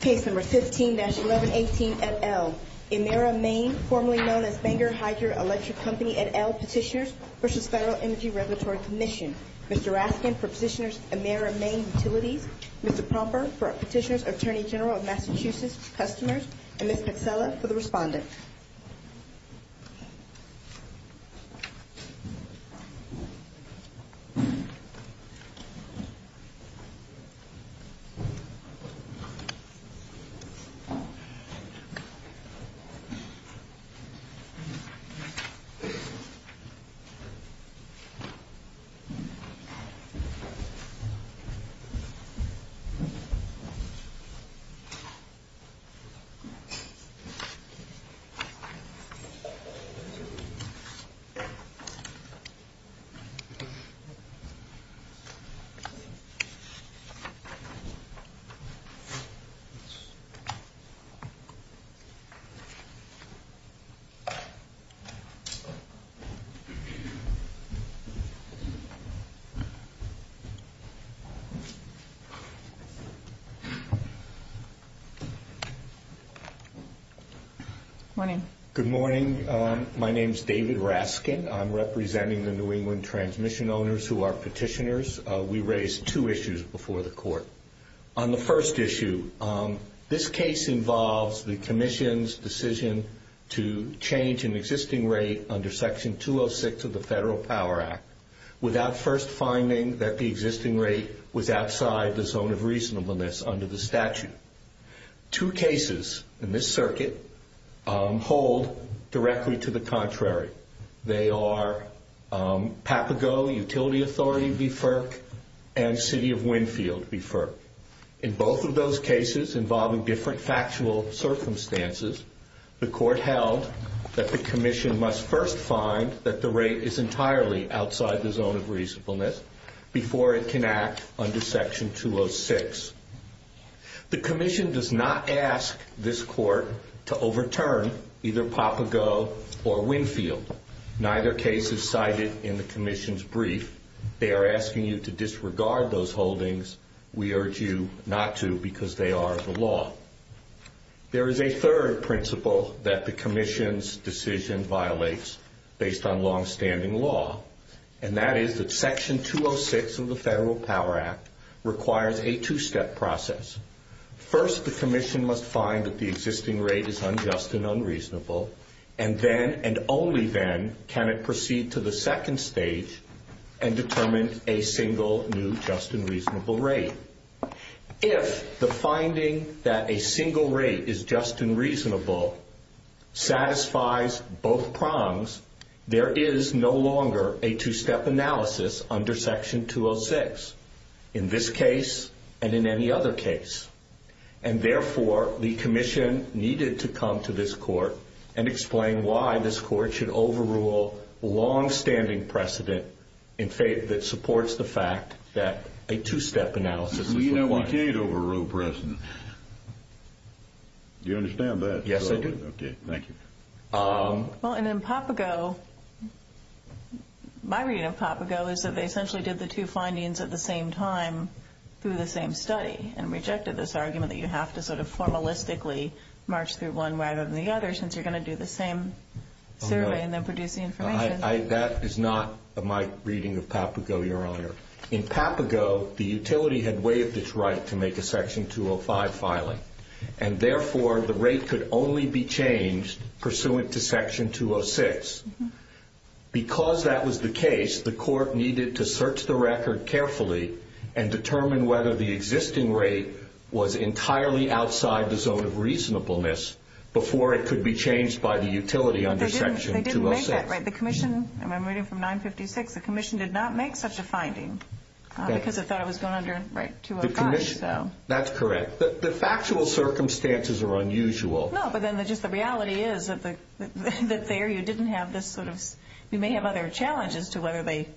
Page number 15-1118, et al. Emera Maine, formerly known as Banger Hydro Electric Company, et al. Petitioners versus Federal Energy Regulatory Commission. Mr. Raskin for Petitioner's Emera Maine Utility. Mr. Pomper for Petitioner's Attorney General of Massachusetts Customers. And Ms. Taxella for the Respondents. Page number 15-1118, et al. Good morning. My name is David Raskin. I'm representing the New England Transmission Owners who are Petitioners. We raised two issues before the Court. On the first issue, this case involves the Commission's decision to change an existing rate under Section 206 of the Federal Power Act without first finding that the existing rate was outside the zone of reasonableness under the statute. Two cases in this circuit hold directly to the contrary. They are Papago Utility Authority v. FERC and City of Winfield v. FERC. In both of those cases involving different factual circumstances, the Court held that the Commission must first find that the rate is entirely outside the zone of reasonableness before it can act under Section 206. The Commission does not ask this Court to overturn either Papago or Winfield. Neither case is cited in the Commission's brief. They are asking you to disregard those holdings. We urge you not to because they are the law. There is a third principle that the Commission's decision violates based on longstanding law. And that is that Section 206 of the Federal Power Act requires a two-step process. First, the Commission must find that the existing rate is unjust and unreasonable, and then and only then can it proceed to the second stage and determine a single new just and reasonable rate. If the finding that a single rate is just and reasonable satisfies both prongs, there is no longer a two-step analysis under Section 206 in this case and in any other case. And, therefore, the Commission needed to come to this Court and explain why this Court should overrule longstanding precedent that supports the fact that a two-step analysis. You never did overrule precedent. Do you understand that? Yes, I do. Okay. Thank you. Well, and in PAPAGO, my reading of PAPAGO is that they essentially did the two findings at the same time through the same study and rejected this argument that you have to sort of formalistically march through one rather than the other since you're going to do the same survey and then produce the information. That is not my reading of PAPAGO, Your Honor. In PAPAGO, the utility had waived its right to make a Section 205 filing. And, therefore, the rate could only be changed pursuant to Section 206. Because that was the case, the Court needed to search the record carefully and determine whether the existing rate was entirely outside the zone of reasonableness before it could be changed by the utility under Section 206. They didn't make that right. The Commission, and I'm reading from 956, the Commission did not make such a finding because it thought it was going under Section 205. That's correct. The factual circumstances are unusual. No, but then just the reality is that there you didn't have this sort of – you may have other challenges to whether they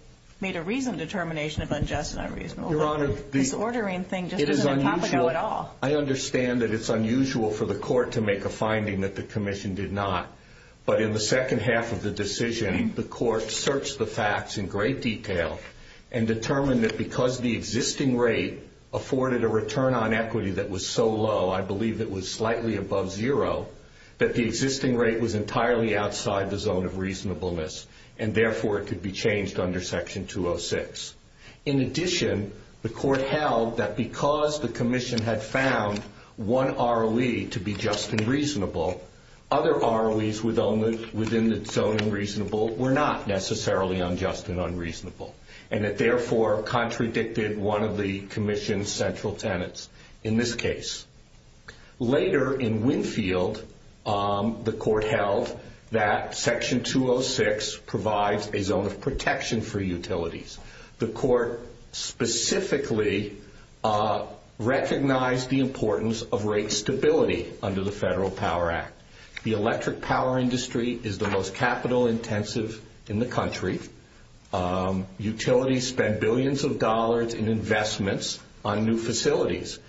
made a reasoned determination of unjust and unreasonable. Your Honor, the – This ordering thing just isn't in PAPAGO at all. I understand that it's unusual for the Court to make a finding that the Commission did not. But in the second half of the decision, the Court searched the facts in great detail and determined that because the existing rate afforded a return on equity that was so low, I believe it was slightly above zero, that the existing rate was entirely outside the zone of reasonableness, and therefore it could be changed under Section 206. In addition, the Court held that because the Commission had found one ROE to be just and reasonable, other ROEs within the zone of reasonable were not necessarily unjust and unreasonable, and it therefore contradicted one of the Commission's central tenets in this case. Later, in Winfield, the Court held that Section 206 provides a zone of protection for utilities. The Court specifically recognized the importance of rate stability under the Federal Power Act. The electric power industry is the most capital-intensive in the country. Utilities spend billions of dollars in investments on new facilities,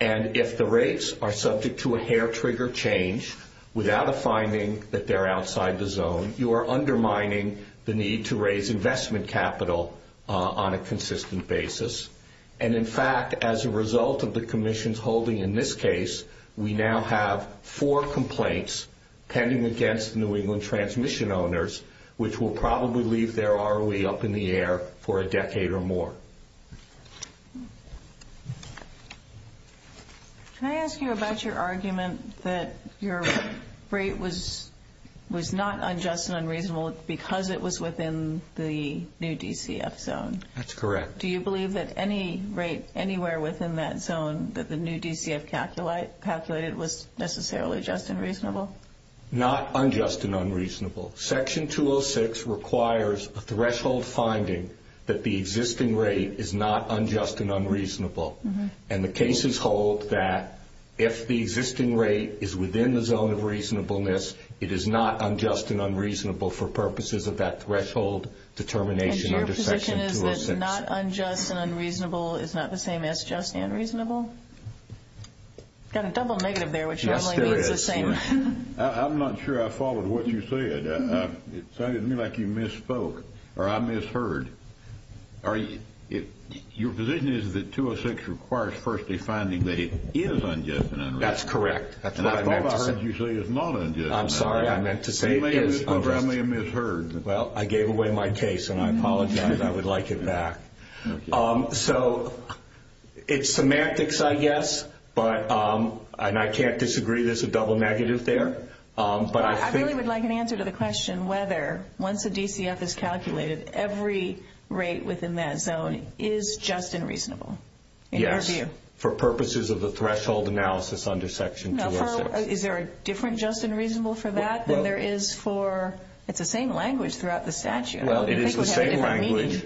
and if the rates are subject to a hair-trigger change without a finding that they're outside the zone, you are undermining the need to raise investment capital on a consistent basis. And in fact, as a result of the Commission's holding in this case, we now have four complaints pending against New England transmission owners, which will probably leave their ROE up in the air for a decade or more. Can I ask you about your argument that your rate was not unjust and unreasonable because it was within the new DCF zone? That's correct. Do you believe that any rate anywhere within that zone that the new DCF calculated was necessarily just and reasonable? Not unjust and unreasonable. Section 206 requires a threshold finding that the existing rate is not unjust and unreasonable, and the cases hold that if the existing rate is within the zone of reasonableness, it is not unjust and unreasonable for purposes of that threshold determination under Section 206. And your position is that not unjust and unreasonable is not the same as just and reasonable? Yes, there is. I'm not sure I followed what you said. It sounded to me like you misspoke or I misheard. Your position is that 206 requires first a finding that it is unjust and unreasonable. That's correct. And all I heard you say is not unjust and unreasonable. I'm sorry. I meant to say it is. I may have misheard. Well, I gave away my case, and I apologize. I would like it back. So it's semantics, I guess, and I can't disagree. There's a double negative there. I really would like an answer to the question whether once a DCF is calculated, every rate within that zone is just and reasonable. Yes, for purposes of the threshold analysis under Section 206. Is there a different just and reasonable for that than there is for the same language throughout the statute? It is the same language,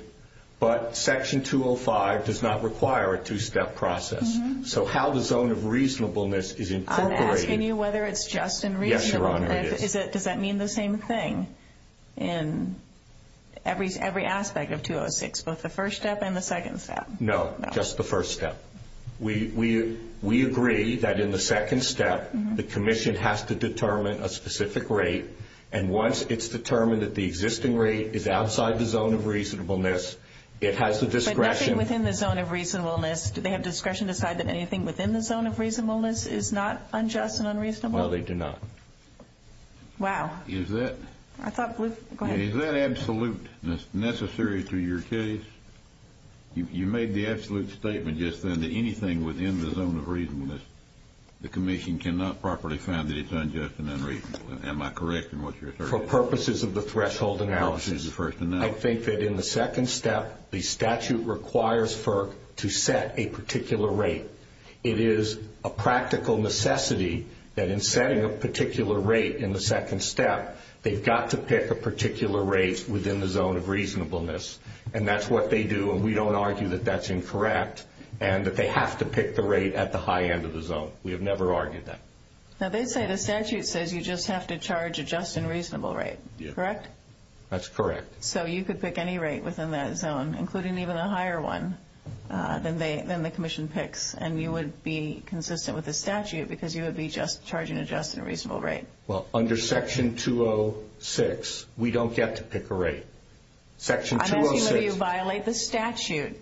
but Section 205 does not require a two-step process. So how the zone of reasonableness is incorporated. I'm asking you whether it's just and reasonable. Yes, Your Honor, it is. Does that mean the same thing in every aspect of 206, both the first step and the second step? No, just the first step. We agree that in the second step, the commission has to determine a specific rate, and once it's determined that the existing rate is outside the zone of reasonableness, it has the discretion. Anything within the zone of reasonableness, do they have discretion to decide that anything within the zone of reasonableness is not unjust and unreasonable? No, they do not. Wow. Is that absolute necessary to your case? You made the absolute statement just then that anything within the zone of reasonableness, the commission cannot properly find that it's unjust and unreasonable. Am I correct in what you're saying? For purposes of the threshold analysis, I think that in the second step, the statute requires to set a particular rate. It is a practical necessity that in setting a particular rate in the second step, they've got to pick a particular rate within the zone of reasonableness, and that's what they do, and we don't argue that that's incorrect, and that they have to pick the rate at the high end of the zone. We have never argued that. So they say the statute says you just have to charge a just and reasonable rate, correct? That's correct. So you could pick any rate within that zone, including even a higher one than the commission picks, and you would be consistent with the statute because you would be just charging a just and reasonable rate. Well, under Section 206, we don't get to pick a rate. I don't think that you violate the statute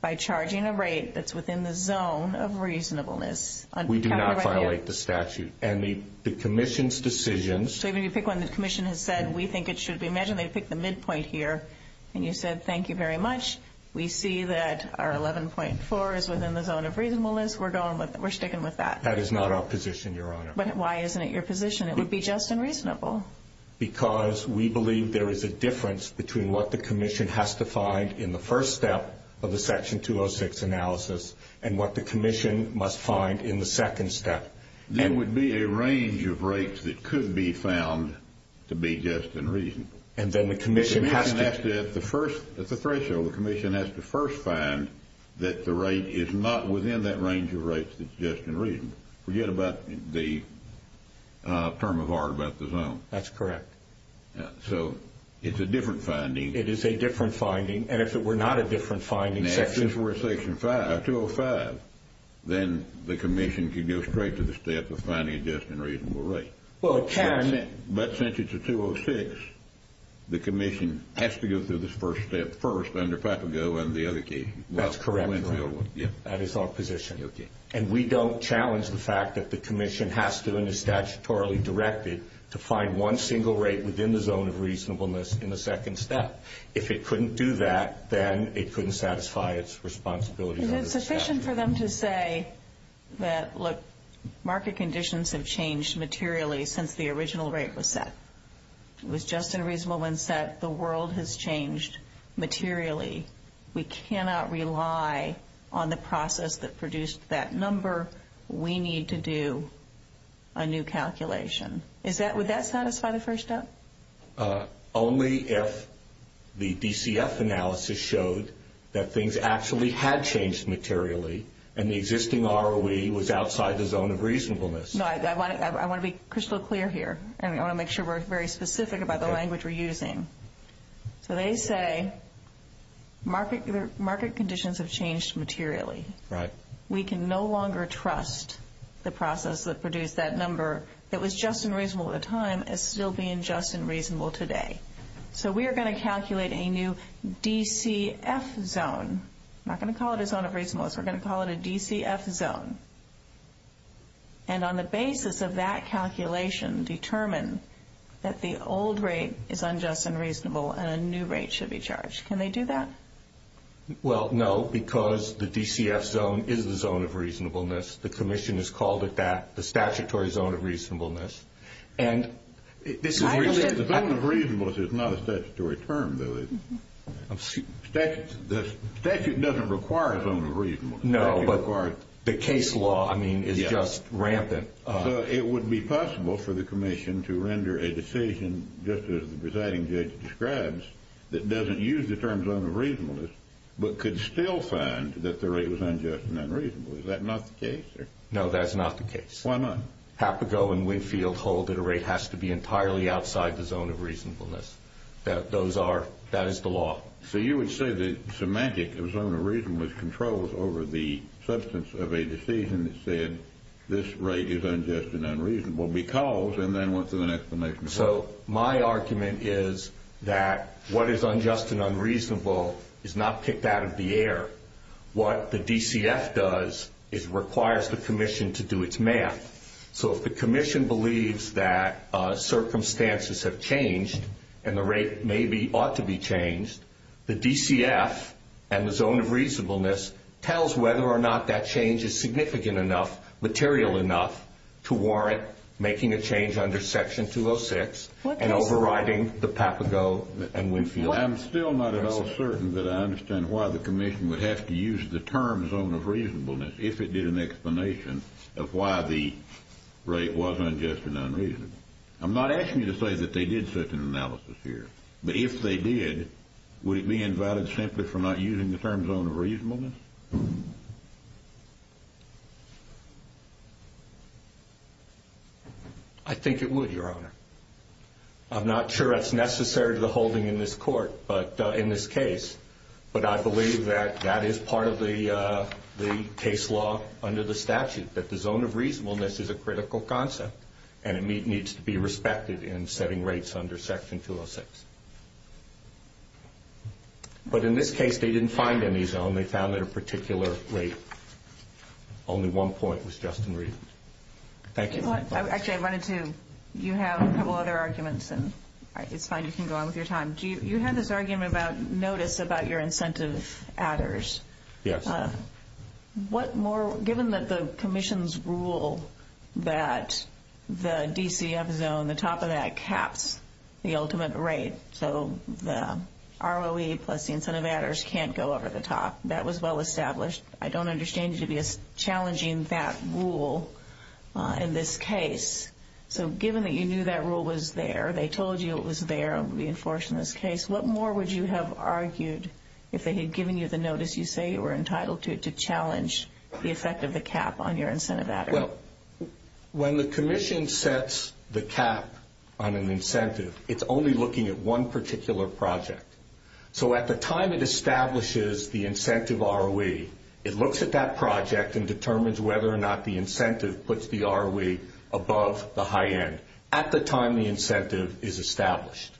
by charging a rate that's within the zone of reasonableness. We do not violate the statute, and the commission's decisions. So even if you pick one, the commission has said we think it should be measured, they pick the midpoint here, and you said thank you very much. We see that our 11.4 is within the zone of reasonableness. We're sticking with that. That is not our position, Your Honor. But why isn't it your position? It would be just and reasonable. Because we believe there is a difference between what the commission has to find in the first step of the Section 206 analysis and what the commission must find in the second step. There would be a range of rates that could be found to be just and reasonable. And then the commission has to… The commission has to, at the threshold, the commission has to first find that the rate is not within that range of rates that's just and reasonable. Forget about the term of art about the zone. That's correct. So it's a different finding. It is a different finding, and if it were not a different finding… Then the commission could go straight to the step of finding just and reasonable rates. But since it's a 206, the commission has to go through this first step first under PAPAGO and the other cases. That's correct. That is our position. And we don't challenge the fact that the commission has to, and it's statutorily directed, to find one single rate within the zone of reasonableness in the second step. If it couldn't do that, then it couldn't satisfy its responsibility. Is it sufficient for them to say that, look, market conditions have changed materially since the original rate was set? It was just and reasonable when set. The world has changed materially. We cannot rely on the process that produced that number. We need to do a new calculation. Would that satisfy the first step? Only if the DCF analysis showed that things actually had changed materially and the existing ROE was outside the zone of reasonableness. I want to be crystal clear here. I want to make sure we're very specific about the language we're using. So they say market conditions have changed materially. Right. We can no longer trust the process that produced that number. If it was just and reasonable at the time, it's still being just and reasonable today. So we are going to calculate a new DCF zone. We're not going to call it a zone of reasonableness. We're going to call it a DCF zone. And on the basis of that calculation, determine that the old rate is unjust and reasonable and a new rate should be charged. Can they do that? Well, no, because the DCF zone is the zone of reasonableness. The commission has called it that, the statutory zone of reasonableness. The zone of reasonableness is not a statutory term, though. The statute doesn't require a zone of reasonableness. No, but the case law, I mean, is just rampant. So it would be possible for the commission to render a decision, just as the presiding judge describes, that doesn't use the term zone of reasonableness but could still find that the rate was unjust and unreasonable. Is that not the case? No, that's not the case. Why not? Hapago and Winfield hold that a rate has to be entirely outside the zone of reasonableness. That is the law. So you would say that it's a magic, the zone of reasonableness, controls over the substance of a decision that said this rate is unjust and unreasonable because, and then what's the next one? So my argument is that what is unjust and unreasonable is not kicked out of the air. What the DCF does is requires the commission to do its math. So if the commission believes that circumstances have changed and the rate maybe ought to be changed, the DCF and the zone of reasonableness tells whether or not that change is significant enough, material enough, to warrant making a change under Section 206 and overriding the Hapago and Winfield. I'm still not at all certain that I understand why the commission would have to use the term zone of reasonableness if it did an explanation of why the rate was unjust and unreasonable. I'm not asking you to say that they did such an analysis here. But if they did, would it be invalid simply for not using the term zone of reasonableness? I think it would, Your Honor. I'm not sure that's necessary to the holding in this court, but in this case. But I believe that that is part of the case law under the statute, that the zone of reasonableness is a critical concept and it needs to be respected in setting rates under Section 206. But in this case, they didn't find any zone. They found their particular rate. Only one point was just in reason. Thank you. Actually, I wanted to. You have a couple other arguments, and it's fine. You can go on with your time. You had this argument about notice about your incentive adders. Yes. Given that the commission's rule that the DCF zone, the top of that, caps the ultimate rate, so the ROE plus the incentive adders can't go over the top, that was well established. I don't understand you challenging that rule in this case. So given that you knew that rule was there, they told you it was there, it would be enforced in this case, what more would you have argued if they had given you the notice you say you were entitled to to challenge the effect of the cap on your incentive adders? Well, when the commission sets the cap on an incentive, it's only looking at one particular project. So at the time it establishes the incentive ROE, it looks at that project and determines whether or not the incentive puts the ROE above the high end at the time the incentive is established.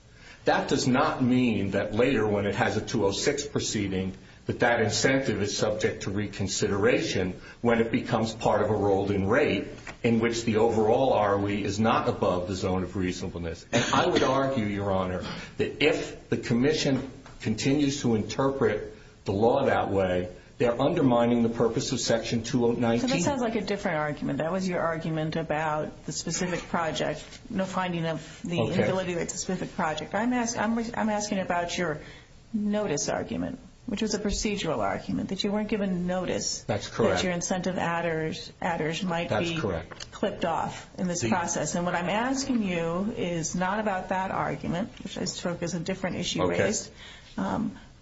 That does not mean that later when it has a 206 proceeding that that incentive is subject to reconsideration when it becomes part of a rolling rate in which the overall ROE is not above the zone of reasonableness. And I would argue, Your Honor, that if the commission continues to interpret the law that way, they're undermining the purpose of Section 219. That sounds like a different argument. That was your argument about the specific project, the finding of the inability of a specific project. I'm asking about your notice argument, which is a procedural argument, that you weren't given notice that your incentive adders might be clipped off in this process. And what I'm asking you is not about that argument, which I took as a different issue,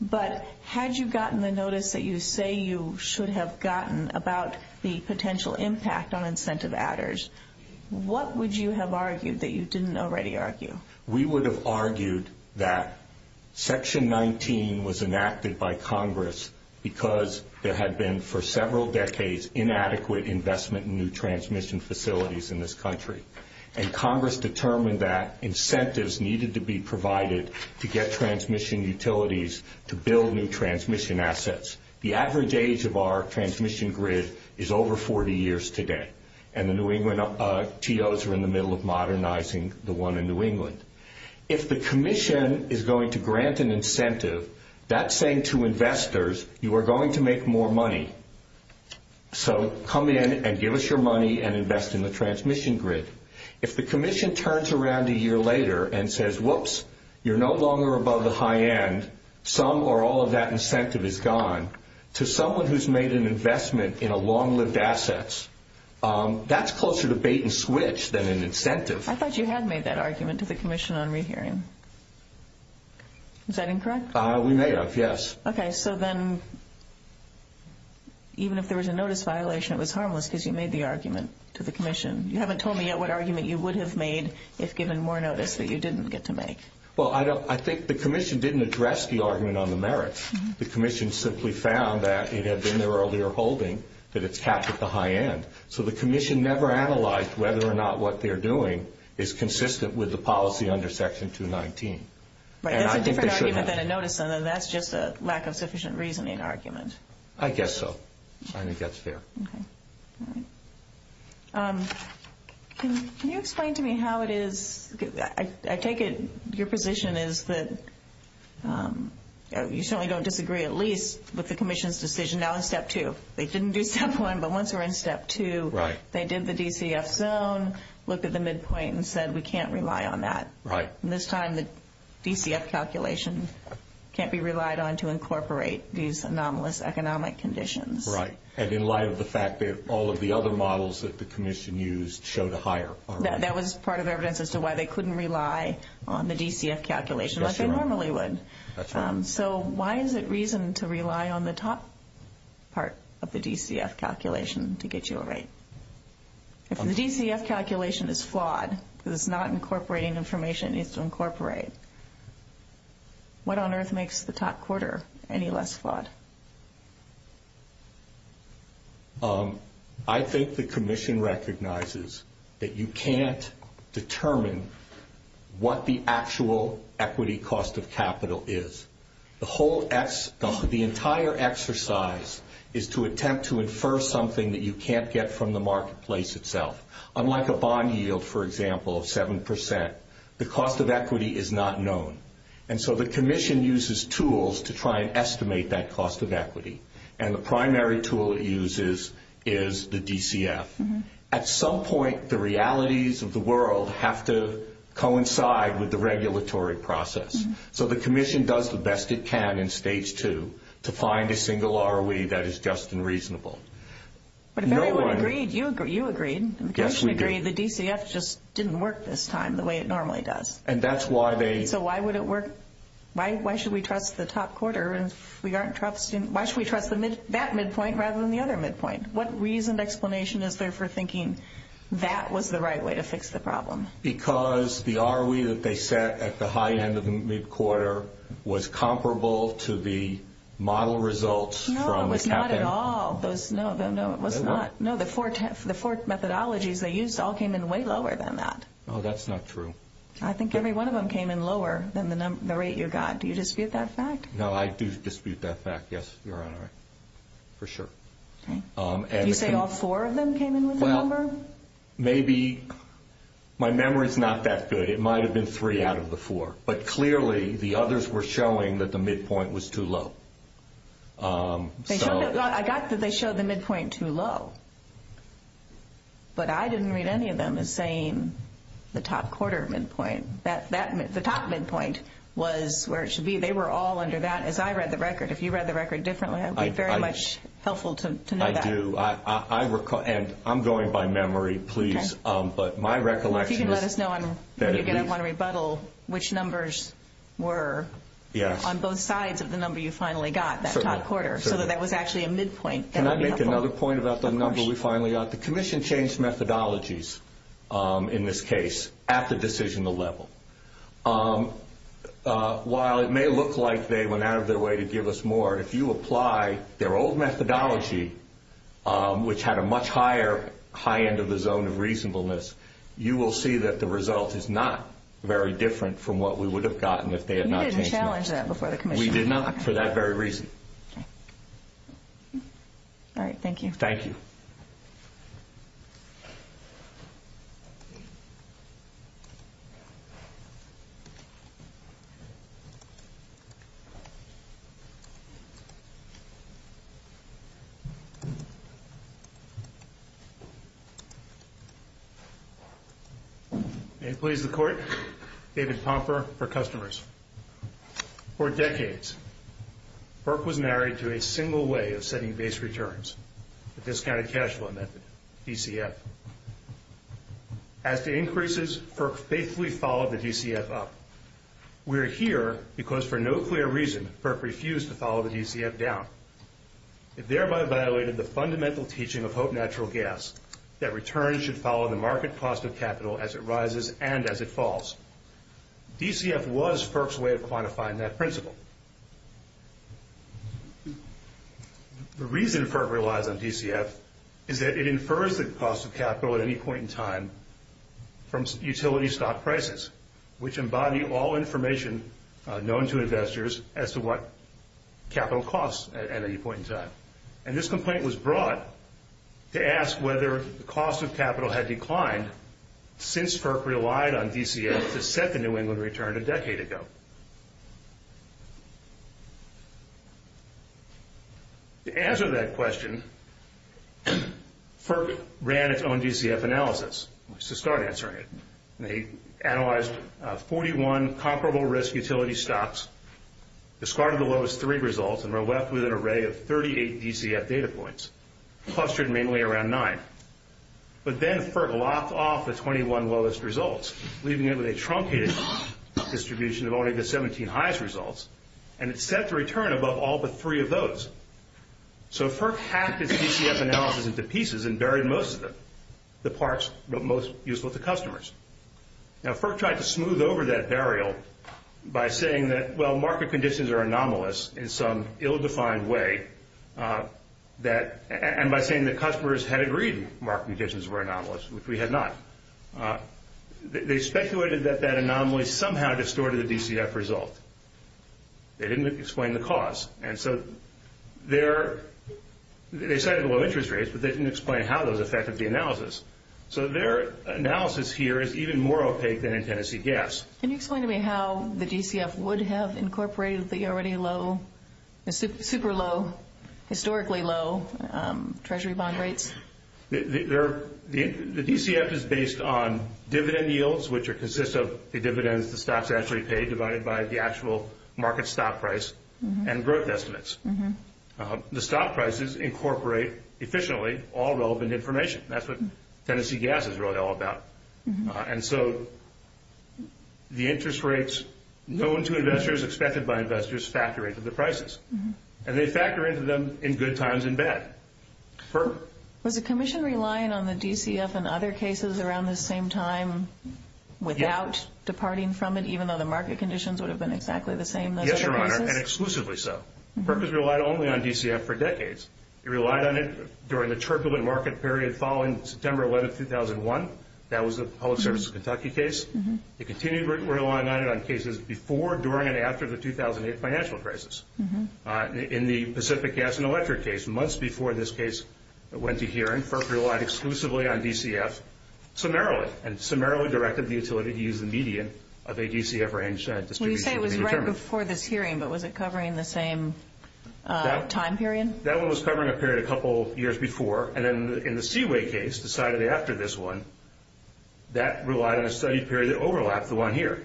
but had you gotten the notice that you say you should have gotten about the potential impact on incentive adders, what would you have argued that you didn't already argue? We would have argued that Section 19 was enacted by Congress because there had been for several decades inadequate investment in new transmission facilities in this country. And Congress determined that incentives needed to be provided to get transmission utilities to build new transmission assets. The average age of our transmission grid is over 40 years today, and the New England TOs are in the middle of modernizing the one in New England. If the commission is going to grant an incentive, that's saying to investors, you are going to make more money, so come in and give us your money and invest in the transmission grid. If the commission turns around a year later and says, whoops, you're no longer above the high end, some or all of that incentive is gone, to someone who's made an investment in a long-lived assets, that's closer to bait and switch than an incentive. I thought you had made that argument to the commission on rehearing. Is that incorrect? We may have, yes. Okay. So then even if there was a notice violation, it was harmless because you made the argument to the commission. You haven't told me yet what argument you would have made if given more notice that you didn't get to make. Well, I think the commission didn't address the argument on the merits. The commission simply found that it had been their earlier holding that it's tapped at the high end. So the commission never analyzed whether or not what they're doing is consistent with the policy under Section 219. That's a different argument than a notice, and that's just a lack of sufficient reasoning argument. I guess so. It kind of gets there. Can you explain to me how it is? I take it your position is that you certainly don't disagree at least with the commission's decision now in Step 2. They didn't do Step 1, but once they were in Step 2, they did the DCF zone, looked at the midpoint, and said we can't rely on that. Right. And this time the DCF calculations can't be relied on to incorporate these anomalous economic conditions. Right. And in light of the fact that all of the other models that the commission used show the higher. That was part of evidence as to why they couldn't rely on the DCF calculations as they normally would. That's right. So why is it reason to rely on the top part of the DCF calculation to get your rate? If the DCF calculation is flawed because it's not incorporating information it needs to incorporate, what on earth makes the top quarter any less flawed? I think the commission recognizes that you can't determine what the actual equity cost of capital is. The entire exercise is to attempt to infer something that you can't get from the marketplace itself. Unlike a bond yield, for example, of 7%, the cost of equity is not known. And so the commission uses tools to try and estimate that cost of equity. And the primary tool it uses is the DCF. At some point the realities of the world have to coincide with the regulatory process. So the commission does the best it can in Stage 2 to find a single ROE that is just and reasonable. But if everyone agreed, you agreed. Yes, we did. The DCF just didn't work this time the way it normally does. So why should we trust the top quarter? Why should we trust that midpoint rather than the other midpoint? What reasoned explanation is there for thinking that was the right way to fix the problem? Because the ROE that they set at the high end of the mid-quarter was comparable to the model results. No, it was not at all. No, it was not. No, the four methodologies they used all came in way lower than that. No, that's not true. I think every one of them came in lower than the rate you got. Do you dispute that fact? No, I do dispute that fact, yes, Your Honor, for sure. Did you say all four of them came in with the number? Well, maybe. My memory is not that good. It might have been three out of the four. But clearly the others were showing that the midpoint was too low. I got that they showed the midpoint too low. But I didn't read any of them as saying the top quarter midpoint. The top midpoint was where it should be. They were all under that, as I read the record. If you read the record differently, it would be very much helpful to know that. I do. And I'm going by memory, please. But my recollection is that if you could let us know when we get up on rebuttal, which numbers were on both sides of the number you finally got, that top quarter, so that that was actually a midpoint. Can I make another point about the number we finally got? The Commission changed methodologies in this case at the decisional level. While it may look like they went out of their way to give us more, if you apply their old methodology, which had a much higher high end of the zone of reasonableness, you will see that the result is not very different from what we would have gotten if they had not changed it. We did not for that very reason. All right, thank you. Thank you. David Popper for customers. For decades, Burke was married to a single way of setting base returns, the discounted cash flow method, DCF. As the increases, Burke faithfully followed the DCF up. We're here because for no clear reason, Burke refused to follow the DCF down. It thereby violated the fundamental teaching of Hope Natural Gas that returns should follow the market cost of capital as it rises and as it falls. DCF was Burke's way of quantifying that principle. The reason Burke relied on DCF is that it infers the cost of capital at any point in time from utility stock prices, which embody all information known to investors as to what capital costs at any point in time. And this complaint was brought to ask whether the cost of capital had declined since Burke relied on DCF to set the New England return a decade ago. To answer that question, Burke ran its own DCF analysis. Let's just start answering it. They analyzed 41 comparable risk utility stocks, discarded the lowest three results, and were left with an array of 38 DCF data points, clustered mainly around nine. But then Burke locked off the 21 lowest results, leaving it with a truncated distribution of only the 17 highest results, and it set the return above all but three of those. So Burke hacked his DCF analysis into pieces and buried most of them, the parts most useful to customers. Now, Burke tried to smooth over that burial by saying that, well, market conditions are anomalous in some ill-defined way, and by saying that customers had agreed market conditions were anomalous, which we had not. They speculated that that anomaly somehow distorted the DCF result. They didn't explain the cause. And so they cited low interest rates, but they didn't explain how those affected the analysis. So their analysis here is even more opaque than in Tennessee Gas. Can you explain to me how the DCF would have incorporated the already low, super low, historically low Treasury bond rates? The DCF is based on dividend yields, which consists of the dividends the stock's actually paid, divided by the actual market stock price and growth estimates. The stock prices incorporate efficiently all relevant information. That's what Tennessee Gas is really all about. And so the interest rates known to investors, expected by investors, factor into the prices, and they factor into them in good times and bad. Burke? Was the Commission relying on the DCF and other cases around the same time without departing from it, even though the market conditions would have been exactly the same? Yes, Your Honor, and exclusively so. Burke has relied only on DCF for decades. He relied on it during the turbulent market period following September 11, 2001. That was the Public Service of Kentucky case. He continued relying on it on cases before, during, and after the 2008 financial crisis. In the Pacific Gas and Electric case, months before this case went to hearing, Burke relied exclusively on DCF, summarily, and summarily directed the utility to use the median of a DCF range. You said it was right before this hearing, but was it covering the same time period? That one was covering a period a couple years before, and then in the Seaway case decided after this one, that relied on a study period that overlapped the one here.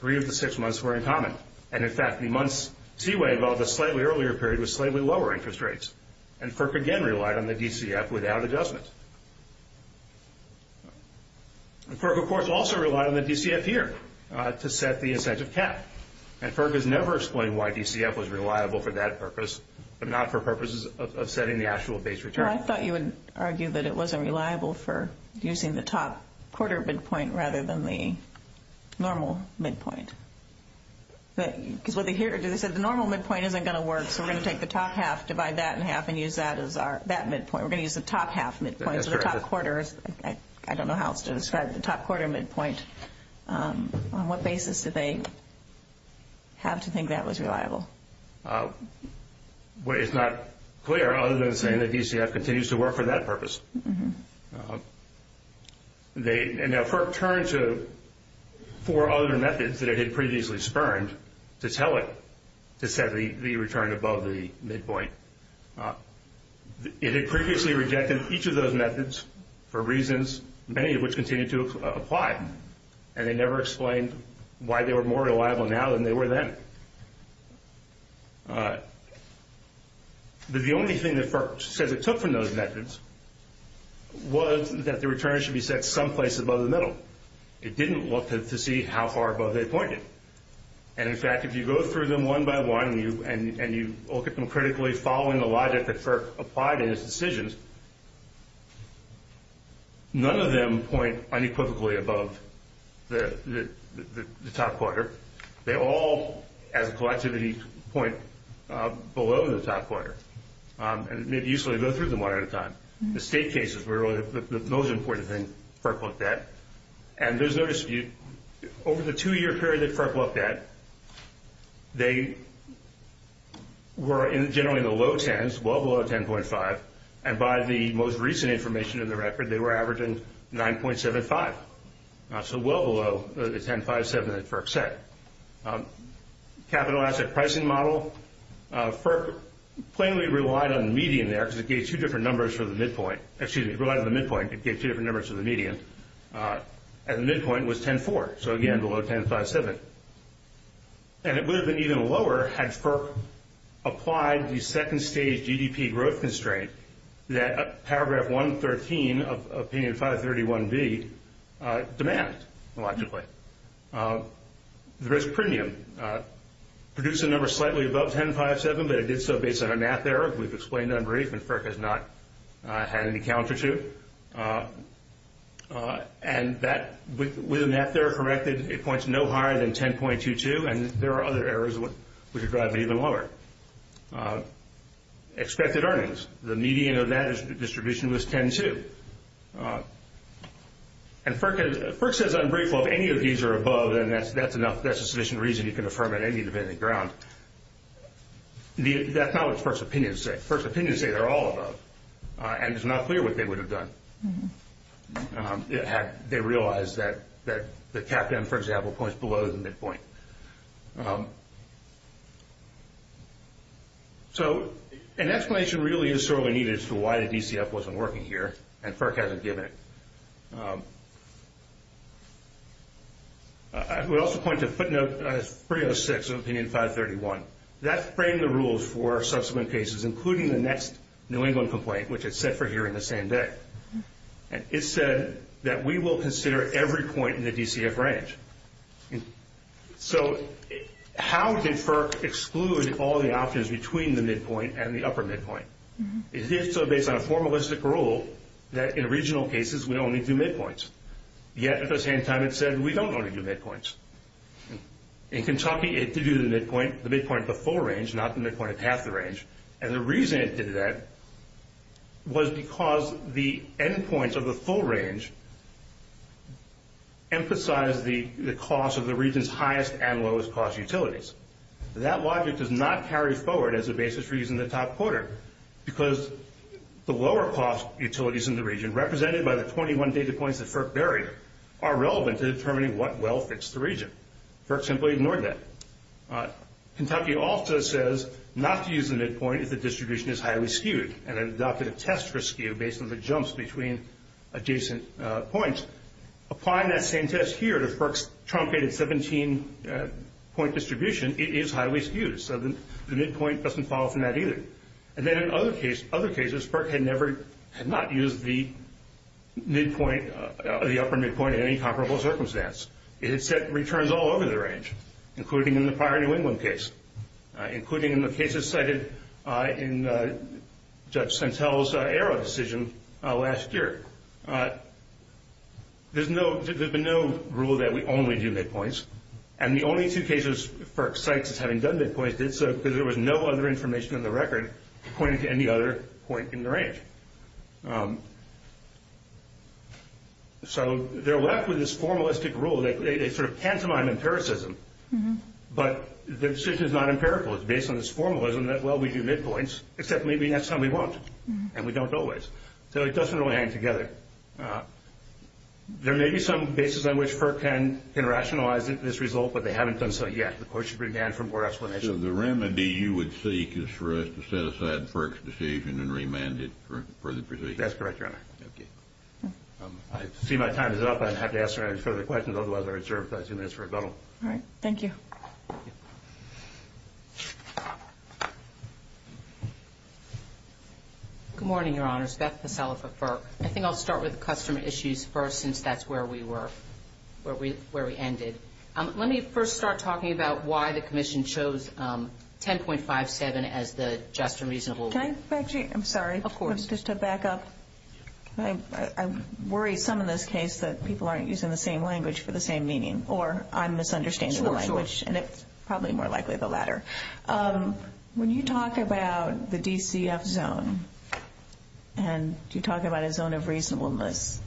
Three of the six months were in common. And, in fact, the months Seaway involved a slightly earlier period with slightly lower interest rates, and Burke again relied on the DCF without adjustments. Burke, of course, also relied on the DCF here to set the incentive cap, and Burke has never explained why DCF was reliable for that purpose, but not for purposes of setting the actual base return. I thought you would argue that it wasn't reliable for using the top quarter midpoint rather than the normal midpoint. The normal midpoint isn't going to work, so we're going to take the top half, divide that in half, and use that midpoint. We're going to use the top half midpoint for the top quarter. I don't know how else to describe the top quarter midpoint. On what basis do they have to think that was reliable? It's not clear, other than saying that DCF continues to work for that purpose. And now Burke turned to four other methods that he had previously spurned to tell it to set the return above the midpoint. He had previously rejected each of those methods for reasons, many of which continue to apply, and they never explained why they were more reliable now than they were then. But the only thing that Burke said it took from those methods was that the return should be set someplace above the middle. It didn't want to see how far above they pointed. And, in fact, if you go through them one by one and you look at them critically following the logic that Burke applied in his decisions, none of them point unequivocally above the top quarter. They all, as a collectivity, point below the top quarter. And it may be useful to go through them one at a time. The state cases were really the most important thing Burke looked at, and there's no dispute. Over the two-year period that Burke looked at, they were generally in the low tens, well below 10.5, and by the most recent information in the record, they were averaging 9.75, so well below the 10.57 that Burke set. Capital asset pricing model, Burke plainly relied on the median there because it gave two different numbers for the midpoint. Excuse me, it relied on the midpoint because it gave two different numbers for the median. At the midpoint, it was 10.4, so again, below 10.57. And it would have been even lower had Burke applied the second-stage GDP growth constraint that Paragraph 113 of Opinion 531B demands, logically. Risk premium, produced a number slightly above 10.57, but it did so based on a math error. We've explained it on brief, and Burke has not had any counter to it. And with a math error corrected, it points no higher than 10.22, and there are other errors which would probably be even lower. Expected earnings, the median of that distribution was 10.2. And Burke says on brief, well, if any of these are above, then that's enough, that's a sufficient reason you can affirm it, I need to be in the ground. That's not what his first opinions say. First opinions say they're all above, and it's not clear what they would have done had they realized that the cap down, for example, points below the midpoint. So an explanation really is sorely needed as to why the DCF wasn't working here, and Burke hasn't given it. I would also point to footnote 306 of opinion 531. That framed the rules for subsequent cases, including the next New England complaint, which it said for here in the same day. It said that we will consider every point in the DCF range. So how did Burke exclude all the options between the midpoint and the upper midpoint? It did so based on a formalistic rule that in regional cases we only do midpoints, yet at the same time it said we don't want to do midpoints. In Kentucky it could do the midpoint, the midpoint at the full range, not the midpoint at half the range, and the reason it did that was because the endpoints of the full range emphasized the cost of the region's highest and lowest cost utilities. That logic does not carry forward as a basis for using the top quarter because the lower cost utilities in the region, represented by the 21 data points that Burke buried, are relevant to determining what well fits the region. Burke simply ignored that. Kentucky also says not to use the midpoint if the distribution is highly skewed, and adopted a test for skew based on the jumps between adjacent points. Applying that same test here to Burke's truncated 17-point distribution, it is highly skewed, so the midpoint doesn't fall from that either. In other cases, Burke had not used the upper midpoint in any comparable circumstance. It had set returns all over the range, including in the prior New England case, including in the cases cited in Judge Sentelle's error decision last year. There's been no rule that we only do midpoints, and the only two cases Burke cites as having done midpoints did so because there was no other information in the record pointing to any other point in the range. So they're left with this formalistic rule, like they sort of tantamount to empiricism, but the decision is not empirical. It's based on this formalism that, well, we do midpoints, except maybe next time we won't, and we don't always. So it doesn't really hang together. There may be some basis on which Burke can rationalize this result, but they haven't done so yet. So the remedy you would seek is for us to set aside Burke's decision and remand it for further proceedings? That's correct, Your Honor. I see my time is up. I'd have to ask Your Honor further questions. Otherwise, I reserve the place and ask for a call. All right. Thank you. Good morning, Your Honor. Beth Petalba, Burke. I think I'll start with the customer issues first, since that's where we were, where we ended. Let me first start talking about why the commission chose 10.57 as the just and reasonable rate. Can I, Betsy? I'm sorry. Of course. Just to back up. I'm worried some in this case that people aren't using the same language for the same meaning, or I'm misunderstanding the language, and it's probably more likely the latter. When you talk about the DCF zone, and you talk about a zone of reasonableness,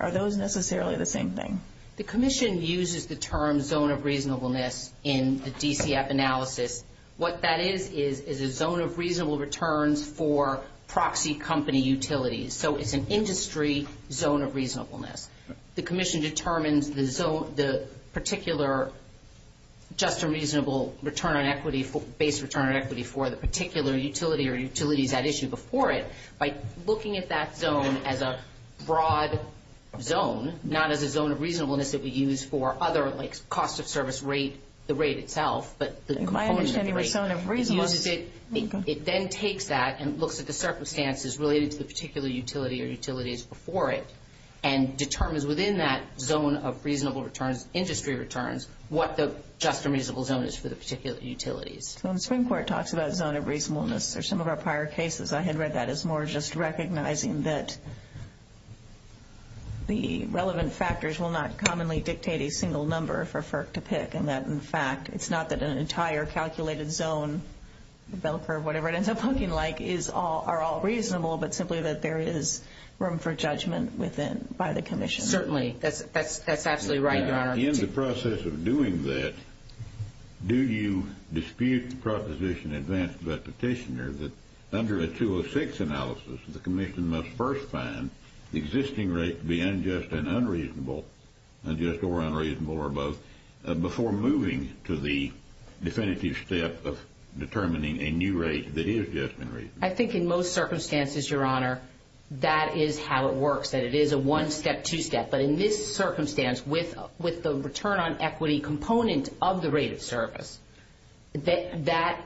are those necessarily the same thing? The commission uses the term zone of reasonableness in the DCF analysis. What that is is a zone of reasonable returns for proxy company utilities. So it's an industry zone of reasonableness. The commission determines the zone, the particular just and reasonable return on equity, base return on equity for the particular utility or utility that issued before it. By looking at that zone as a broad zone, not as a zone of reasonableness that we use for other, like cost of service rate, the rate itself, but the component of the rate. Am I understanding the zone of reasonableness? It then takes that and looks at the circumstances related to the particular utility or utilities before it and determines within that zone of reasonable returns, industry returns, what the just and reasonable zone is for the particular utility. So when the Supreme Court talks about a zone of reasonableness, or some of our prior cases, I had read that, it was more just recognizing that the relevant factors will not commonly dictate a single number for FERC to pick and that, in fact, it's not that an entire calculated zone, whatever it ends up looking like, are all reasonable, but simply that there is room for judgment by the commission. Certainly, that's absolutely right. In the process of doing that, do you dispute the proposition advanced by the petitioner that under a 206 analysis, the commission must first find existing rates to be unjust and unreasonable, unjust or unreasonable or both, before moving to the definitive step of determining a new rate that is just and reasonable? I think in most circumstances, Your Honor, that is how it works, that it is a one-step, two-step. But in this circumstance, with the return on equity component of the rate of service, that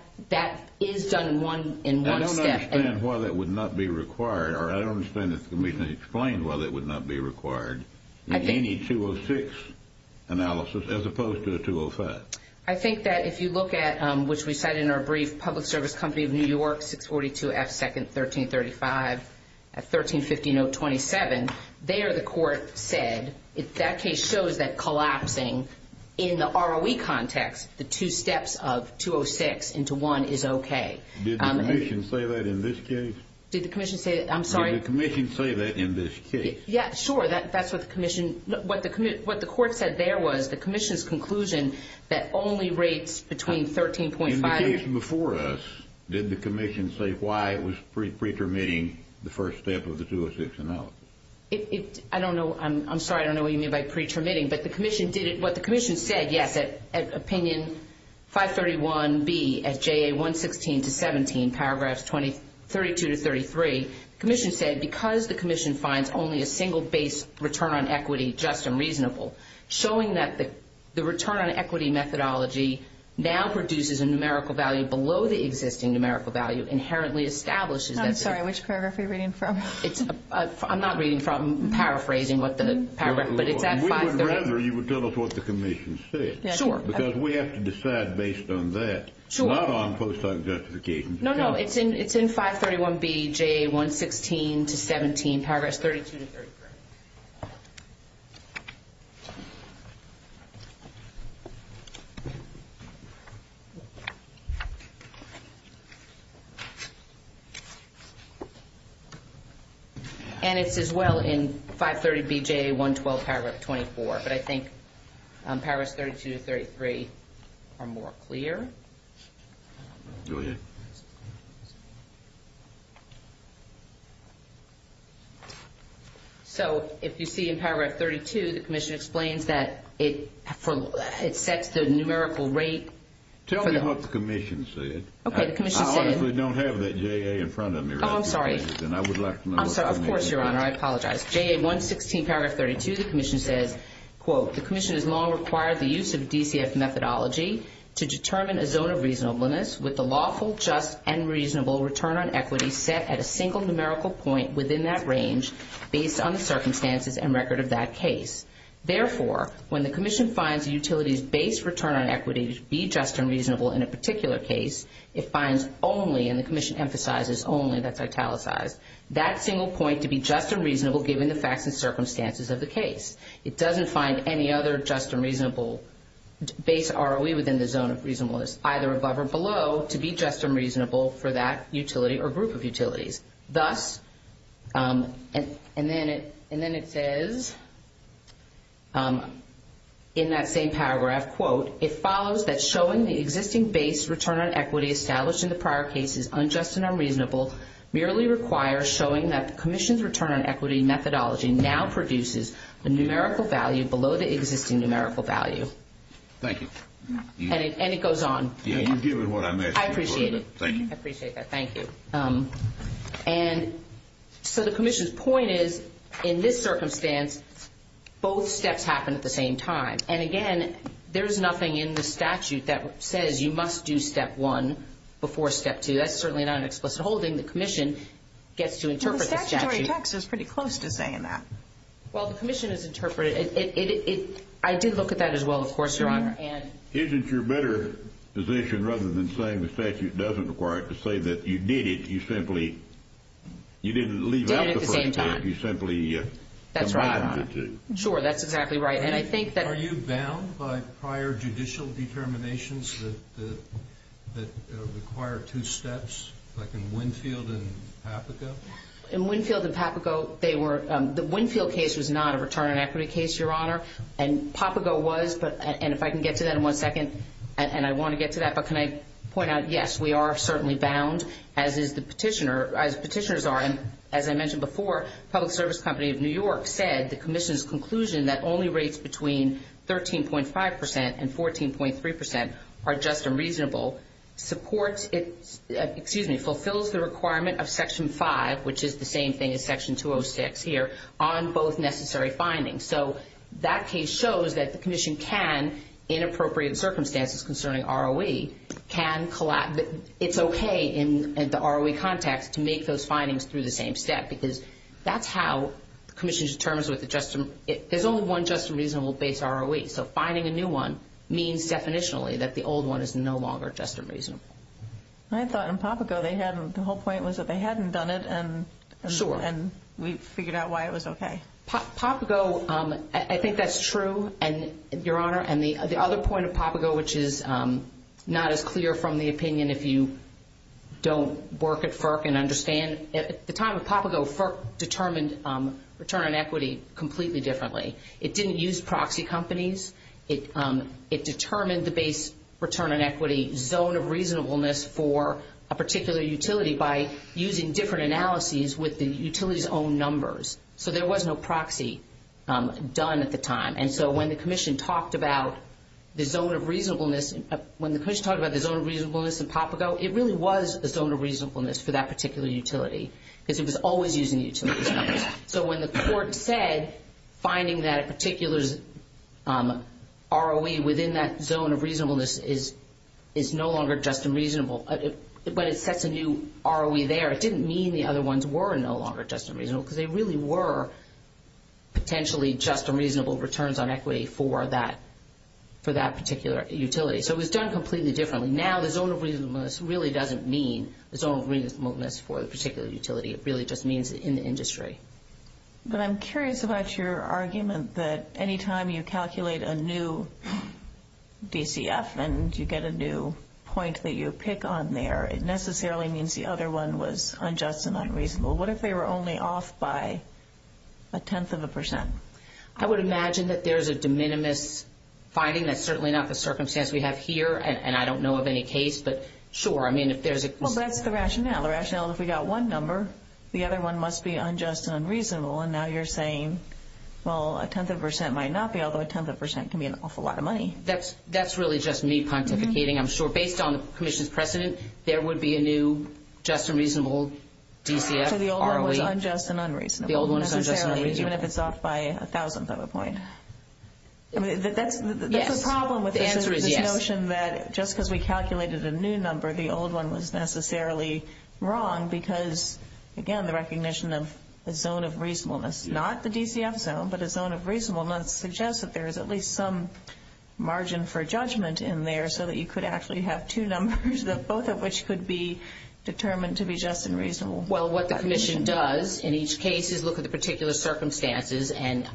is done in one step. I don't understand why that would not be required, or I don't understand if you can explain why that would not be required in any 206 analysis, as opposed to a 205. I think that if you look at, which we said in our brief, Public Service Company of New York, 642 F. 2nd, 1335, at 1350 note 27, there the court said, if that case shows that collapsing in the ROE context, the two steps of 206 into one is okay. Did the commission say that in this case? Did the commission say that? I'm sorry. Did the commission say that in this case? Yeah, sure, that's what the commission, what the court said there was the commission's conclusion that only rates between 13.5 and... In the case before us, did the commission say why it was pre-permitting the first step of the 206 analysis? I don't know, I'm sorry, I don't know what you mean by pre-permitting, but the commission did it, but the commission said yes, that opinion 531B at JA 116 to 17, paragraphs 32 to 33, the commission said because the commission finds only a single base return on equity just and reasonable, showing that the return on equity methodology now produces a numerical value below the existing numerical value inherently establishes... I'm sorry, which paragraph are you reading from? I'm not reading from, I'm paraphrasing what the paragraph, but it's at 531... We would rather you would tell us what the commission said, because we have to decide based on that. Sure. I don't want to post on justification. No, no, it's in 531B, JA 116 to 17, paragraphs 32 to 33. And it's as well in 530B, JA 112, paragraphs 24, but I think paragraphs 32 to 33 are more clear. I'm sorry, I'm not reading that. So, if you see in paragraph 32, the commission explains that it sets the numerical rate... Tell me what the commission said. Okay, the commission said... I don't have that JA in front of me right now. Oh, I'm sorry. And I would like to know... Of course, Your Honor, I apologize. JA 116, paragraph 32, the commission said, quote, the commission has long required the use of DCS methodology to determine a zone of reasonableness with a lawful, just, and reasonable return on equity set at a single numerical point within that range based on the circumstances and record of that case. Therefore, when the commission finds a utility's base return on equity to be just and reasonable in a particular case, it finds only, and the commission emphasizes only, that's italicized, that single point to be just and reasonable given the facts and circumstances of the case. It doesn't find any other just and reasonable base ROE within the zone of reasonableness, for that utility or group of utilities. Thus, and then it says, in that same paragraph, quote, it follows that showing the existing base return on equity established in the prior case is unjust and unreasonable, merely requires showing that the commission's return on equity methodology now produces a numerical value below the existing numerical value. Thank you. And it goes on. Yeah, you deal with what I missed. I appreciate it. Thank you. I appreciate that. Thank you. And so the commission's point is, in this circumstance, both steps happen at the same time. And, again, there's nothing in the statute that says you must do step one before step two. That's certainly not an explicit holding. The commission gets to interpret the statute. The statutory text is pretty close to saying that. Well, the commission has interpreted it. I did look at that as well, of course, Your Honor. Isn't your better position, rather than saying the statute doesn't require it, to say that you did it, you simply, you didn't leave out the first step, you simply combined it. Sure, that's exactly right. Are you bound by prior judicial determinations that require two steps, like in Winfield and Papago? In Winfield and Papago, the Winfield case was not a return on equity case, Your Honor. And Papago was, and if I can get to that in one second, and I want to get to that, but can I point out, yes, we are certainly bound, as is the petitioner, as petitioners are. As I mentioned before, Public Service Company of New York said, the commission's conclusion that only rates between 13.5% and 14.3% are just and reasonable supports its, excuse me, fulfills the requirement of Section 5, which is the same thing as Section 206 here, on both necessary findings. So that case shows that the commission can, in appropriate circumstances concerning ROE, can, it's okay in the ROE context to make those findings through the same step, because that's how the commission determines what the just, there's only one just and reasonable base ROE, so finding a new one means definitionally that the old one is no longer just and reasonable. I thought in Papago they had, the whole point was that they hadn't done it, and we figured out why it was okay. Papago, I think that's true, Your Honor, and the other point of Papago, which is not as clear from the opinion if you don't work at FERC and understand, at the time of Papago, FERC determined return on equity completely differently. It didn't use proxy companies. It determined the base return on equity zone of reasonableness for a particular utility by using different analyses with the utility's own numbers. So there was no proxy done at the time. And so when the commission talked about the zone of reasonableness, when the commission talked about the zone of reasonableness in Papago, it really was the zone of reasonableness for that particular utility, because it was always using the utility. So when the court said finding that particular ROE within that zone of reasonableness is no longer just and reasonable, but it sets a new ROE there, it didn't mean the other ones were no longer just and reasonable, because they really were potentially just and reasonable returns on equity for that particular utility. So it was done completely differently. Now the zone of reasonableness really doesn't mean the zone of reasonableness for a particular utility. It really just means in the industry. But I'm curious about your argument that any time you calculate a new DCF and you get a new point that you pick on there, it necessarily means the other one was unjust and unreasonable. What if they were only off by a tenth of a percent? I would imagine that there's a de minimis finding. That's certainly not the circumstance we have here, and I don't know of any case. But sure, I mean, if there's a... Well, that's the rationale. The rationale is if we got one number, the other one must be unjust and unreasonable. And now you're saying, well, a tenth of a percent might not be, although a tenth of a percent can be an awful lot of money. That's really just me quantificating, I'm sure. Based on the commission's precedent, there would be a new just and reasonable DCF. So the old one was unjust and unreasonable. The old one was unjust and unreasonable. Even if it's off by a thousandth of a point. There's a problem with the notion that just because we calculated a new number, the old one was necessarily wrong because, again, the recognition of a zone of reasonableness, not the DCF zone, but a zone of reasonableness, suggests that there is at least some margin for judgment in there so that you could actually have two numbers, both of which could be determined to be just and reasonable. Well, what the commission does in each case is look at the particular circumstances. And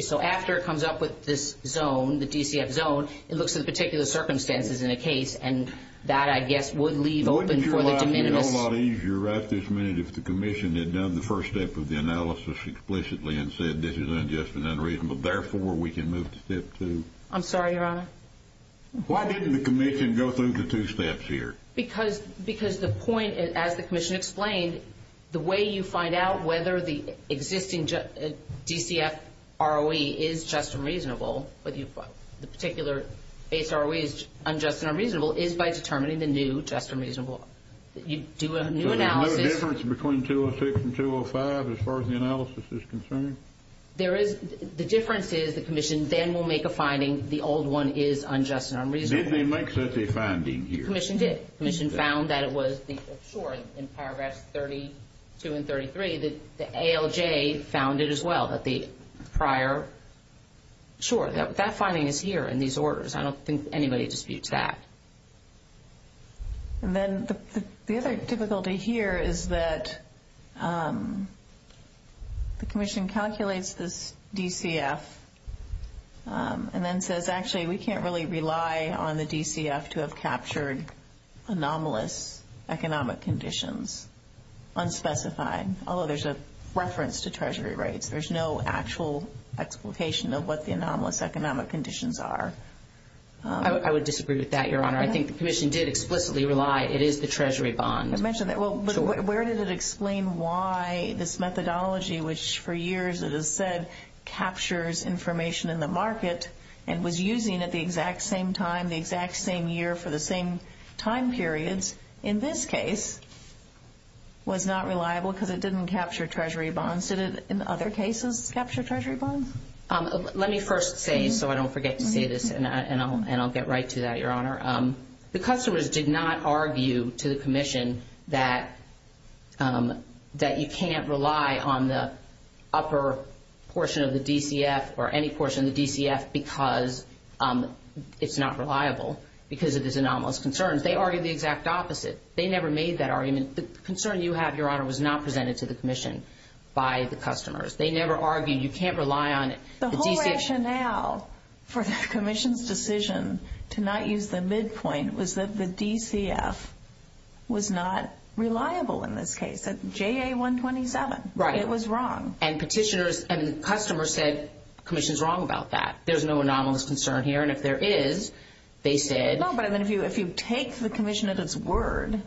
so after it comes up with this zone, the DCF zone, it looks at the particular circumstances in the case. And that, I guess, would leave open for the committee. Wouldn't it be a lot easier right this minute if the commission had done the first step of the analysis explicitly and said this is unjust and unreasonable. Therefore, we can move to step two. I'm sorry, Your Honor. Why shouldn't the commission go through the two steps here? Because the point, as the commission explained, the way you find out whether the existing DCF ROE is just and reasonable, the particular HROE is unjust and unreasonable, is by determining the new just and reasonable. You do a new analysis. So there's no difference between 206 and 205 as far as the analysis is concerned? There is. The difference is the commission then will make a finding the old one is unjust and unreasonable. Did they make such a finding here? The commission did. The commission found that it was short in paragraphs 32 and 33. The ALJ found it as well, that the prior. Sure, that finding is here in these orders. I don't think anybody disputes that. And then the other difficulty here is that the commission calculates this DCF and then says, actually, we can't really rely on the DCF to have captured anomalous economic conditions, unspecified, although there's a reference to treasury rates. There's no actual explication of what the anomalous economic conditions are. I would disagree with that, Your Honor. I think the commission did explicitly rely it is the treasury bonds. Where does it explain why this methodology, which for years it has said captures information in the market and was using it the exact same time, the exact same year for the same time period, in this case, was not reliable because it didn't capture treasury bonds. Did it, in other cases, capture treasury bonds? Let me first say, so I don't forget to say this, and I'll get right to that, Your Honor. The customers did not argue to the commission that you can't rely on the upper portion of the DCF or any portion of the DCF because it's not reliable, because of this anomalous concern. They argued the exact opposite. They never made that argument. The concern you have, Your Honor, was not presented to the commission by the customers. They never argued you can't rely on it. The whole rationale for the commission's decision to not use the midpoint was that the DCF was not reliable in this case. That's JA-127. Right. It was wrong. And the customers said the commission's wrong about that. There's no anomalous concern here, and if there is, they said— No, but if you take the commission at its word,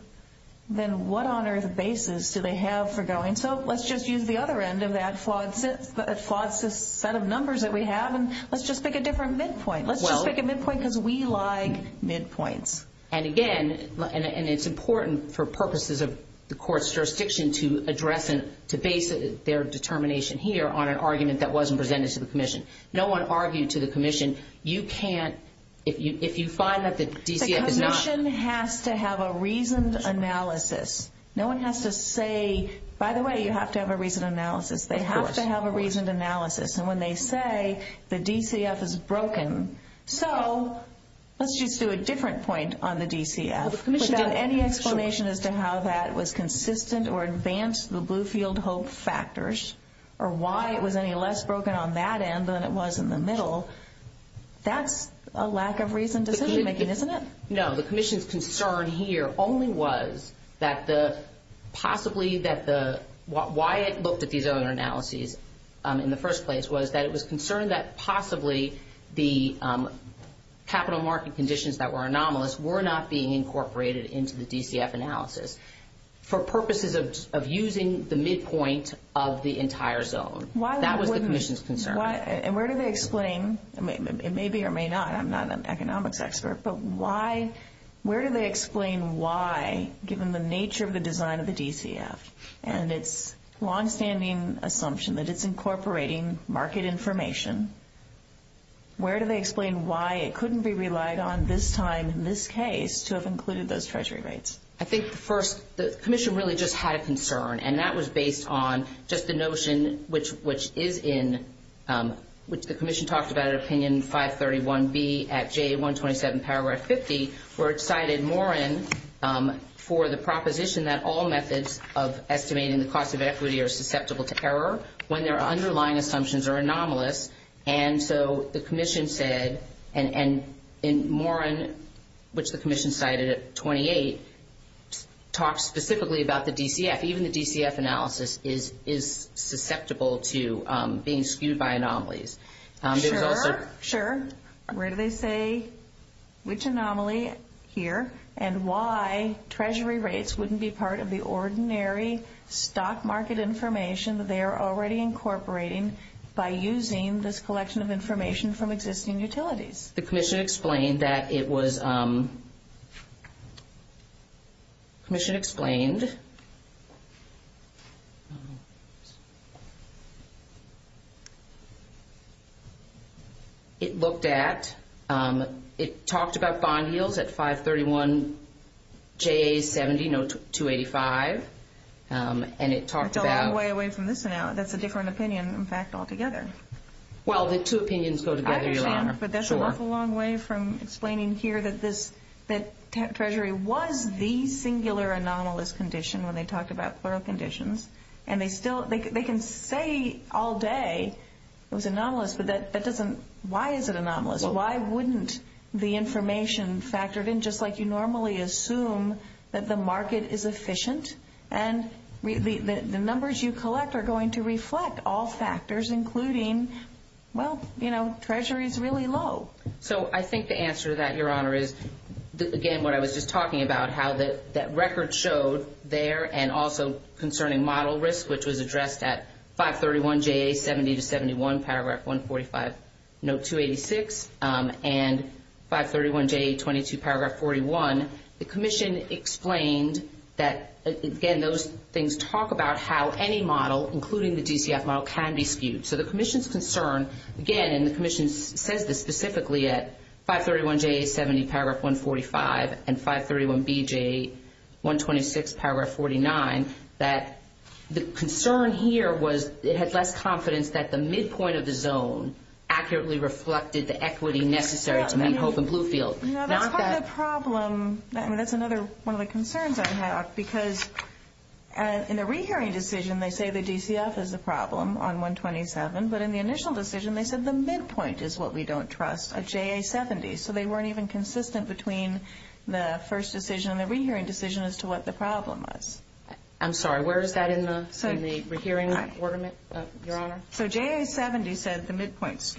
then what honor basis do they have for going, And so let's just use the other end of that squad set of numbers that we have, and let's just pick a different midpoint. Let's just pick a midpoint because we like midpoints. And again, and it's important for purposes of the court's jurisdiction to address and to base their determination here on an argument that wasn't presented to the commission. No one argued to the commission, you can't—if you find that the DCF is not— The commission has to have a reasoned analysis. No one has to say, by the way, you have to have a reasoned analysis. They have to have a reasoned analysis. And when they say the DCF is broken, so let's just do a different point on the DCF. Without any explanation as to how that was consistent or advanced the Bluefield Hope factors or why it was any less broken on that end than it was in the middle, that's a lack of reasoned decision-making, isn't it? No, the commission's concern here only was that the—possibly that the— why it looked at these other analyses in the first place was that it was concerned that possibly the capital market conditions that were anomalous were not being incorporated into the DCF analysis for purposes of using the midpoint of the entire zone. That was the commission's concern. And where do they explain—it may be or may not, I'm not an economics expert, but why—where do they explain why, given the nature of the design of the DCF and its long-standing assumption that it's incorporating market information, where do they explain why it couldn't be relied on this time in this case to have included those treasury rates? I think, first, the commission really just had a concern, and that was based on just the notion which is in—which the commission talked about in Opinion 531B at J127, Paragraph 50, where it cited Morin for the proposition that all methods of estimating the cost of equity are susceptible to error when their underlying assumptions are anomalous. And so the commission said—and Morin, which the commission cited at 28, talks specifically about the DCF. Even the DCF analysis is susceptible to being skewed by anomalies. Sure, sure. Where do they say which anomaly, here, and why treasury rates wouldn't be part of the ordinary stock market information that they are already incorporating by using this collection of information from existing utilities? The commission explained that it was—the commission explained— it looked at—it talked about bond yields at 531J70, note 285, and it talked about— That's a long way away from this now. That's a different opinion, in fact, altogether. Well, the two opinions go together. But that's a long way from explaining here that treasury was the singular anomalous condition when they talked about plural conditions. And they still—they can say all day it was anomalous, but that doesn't— why is it anomalous? Why wouldn't the information factored in just like you normally assume that the market is efficient? And the numbers you collect are going to reflect all factors, including, well, you know, treasury is really low. So I think the answer to that, Your Honor, is, again, what I was just talking about, how that record showed there and also concerning model risk, which was addressed at 531J70-71, paragraph 145, note 286, and 531J22, paragraph 41. The commission explained that, again, those things talk about how any model, including the DCF model, can be skewed. So the commission's concern, again, and the commission said this specifically at 531J70, paragraph 145, and 531BJ126, paragraph 49, that the concern here was it had less confidence that the midpoint of the zone accurately reflected the equity necessary to make hope in Bluefield. You know, that's part of the problem. I mean, that's another one of the concerns I have because in the re-hearing decision, they say the DCF is the problem on 127, but in the initial decision, they said the midpoint is what we don't trust, a JA70. So they weren't even consistent between the first decision and the re-hearing decision as to what the problem was. I'm sorry, where is that in the re-hearing report, Your Honor? So JA70 said the midpoint.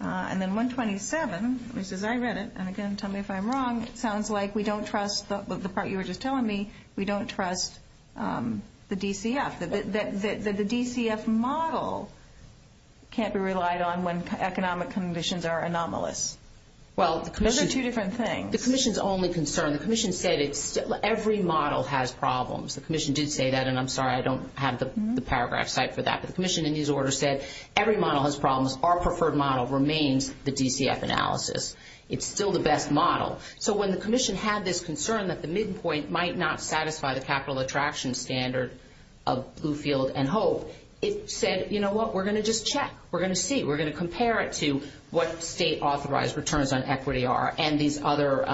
And then 127, which is I read it, and again, tell me if I'm wrong, it sounds like we don't trust the part you were just telling me, we don't trust the DCF. The DCF model can't be relied on when economic conditions are anomalous. Those are two different things. The commission's only concern, the commission stated every model has problems. The commission did say that, and I'm sorry, I don't have the paragraph cited for that. The commission in these orders said every model has problems. Our preferred model remains the DCF analysis. It's still the best model. So when the commission had this concern that the midpoint might not satisfy the capital attraction standard of Bluefield and Hope, it said, you know what, we're going to just check. We're going to see. We're going to compare it to what state-authorized returns on equity are and these other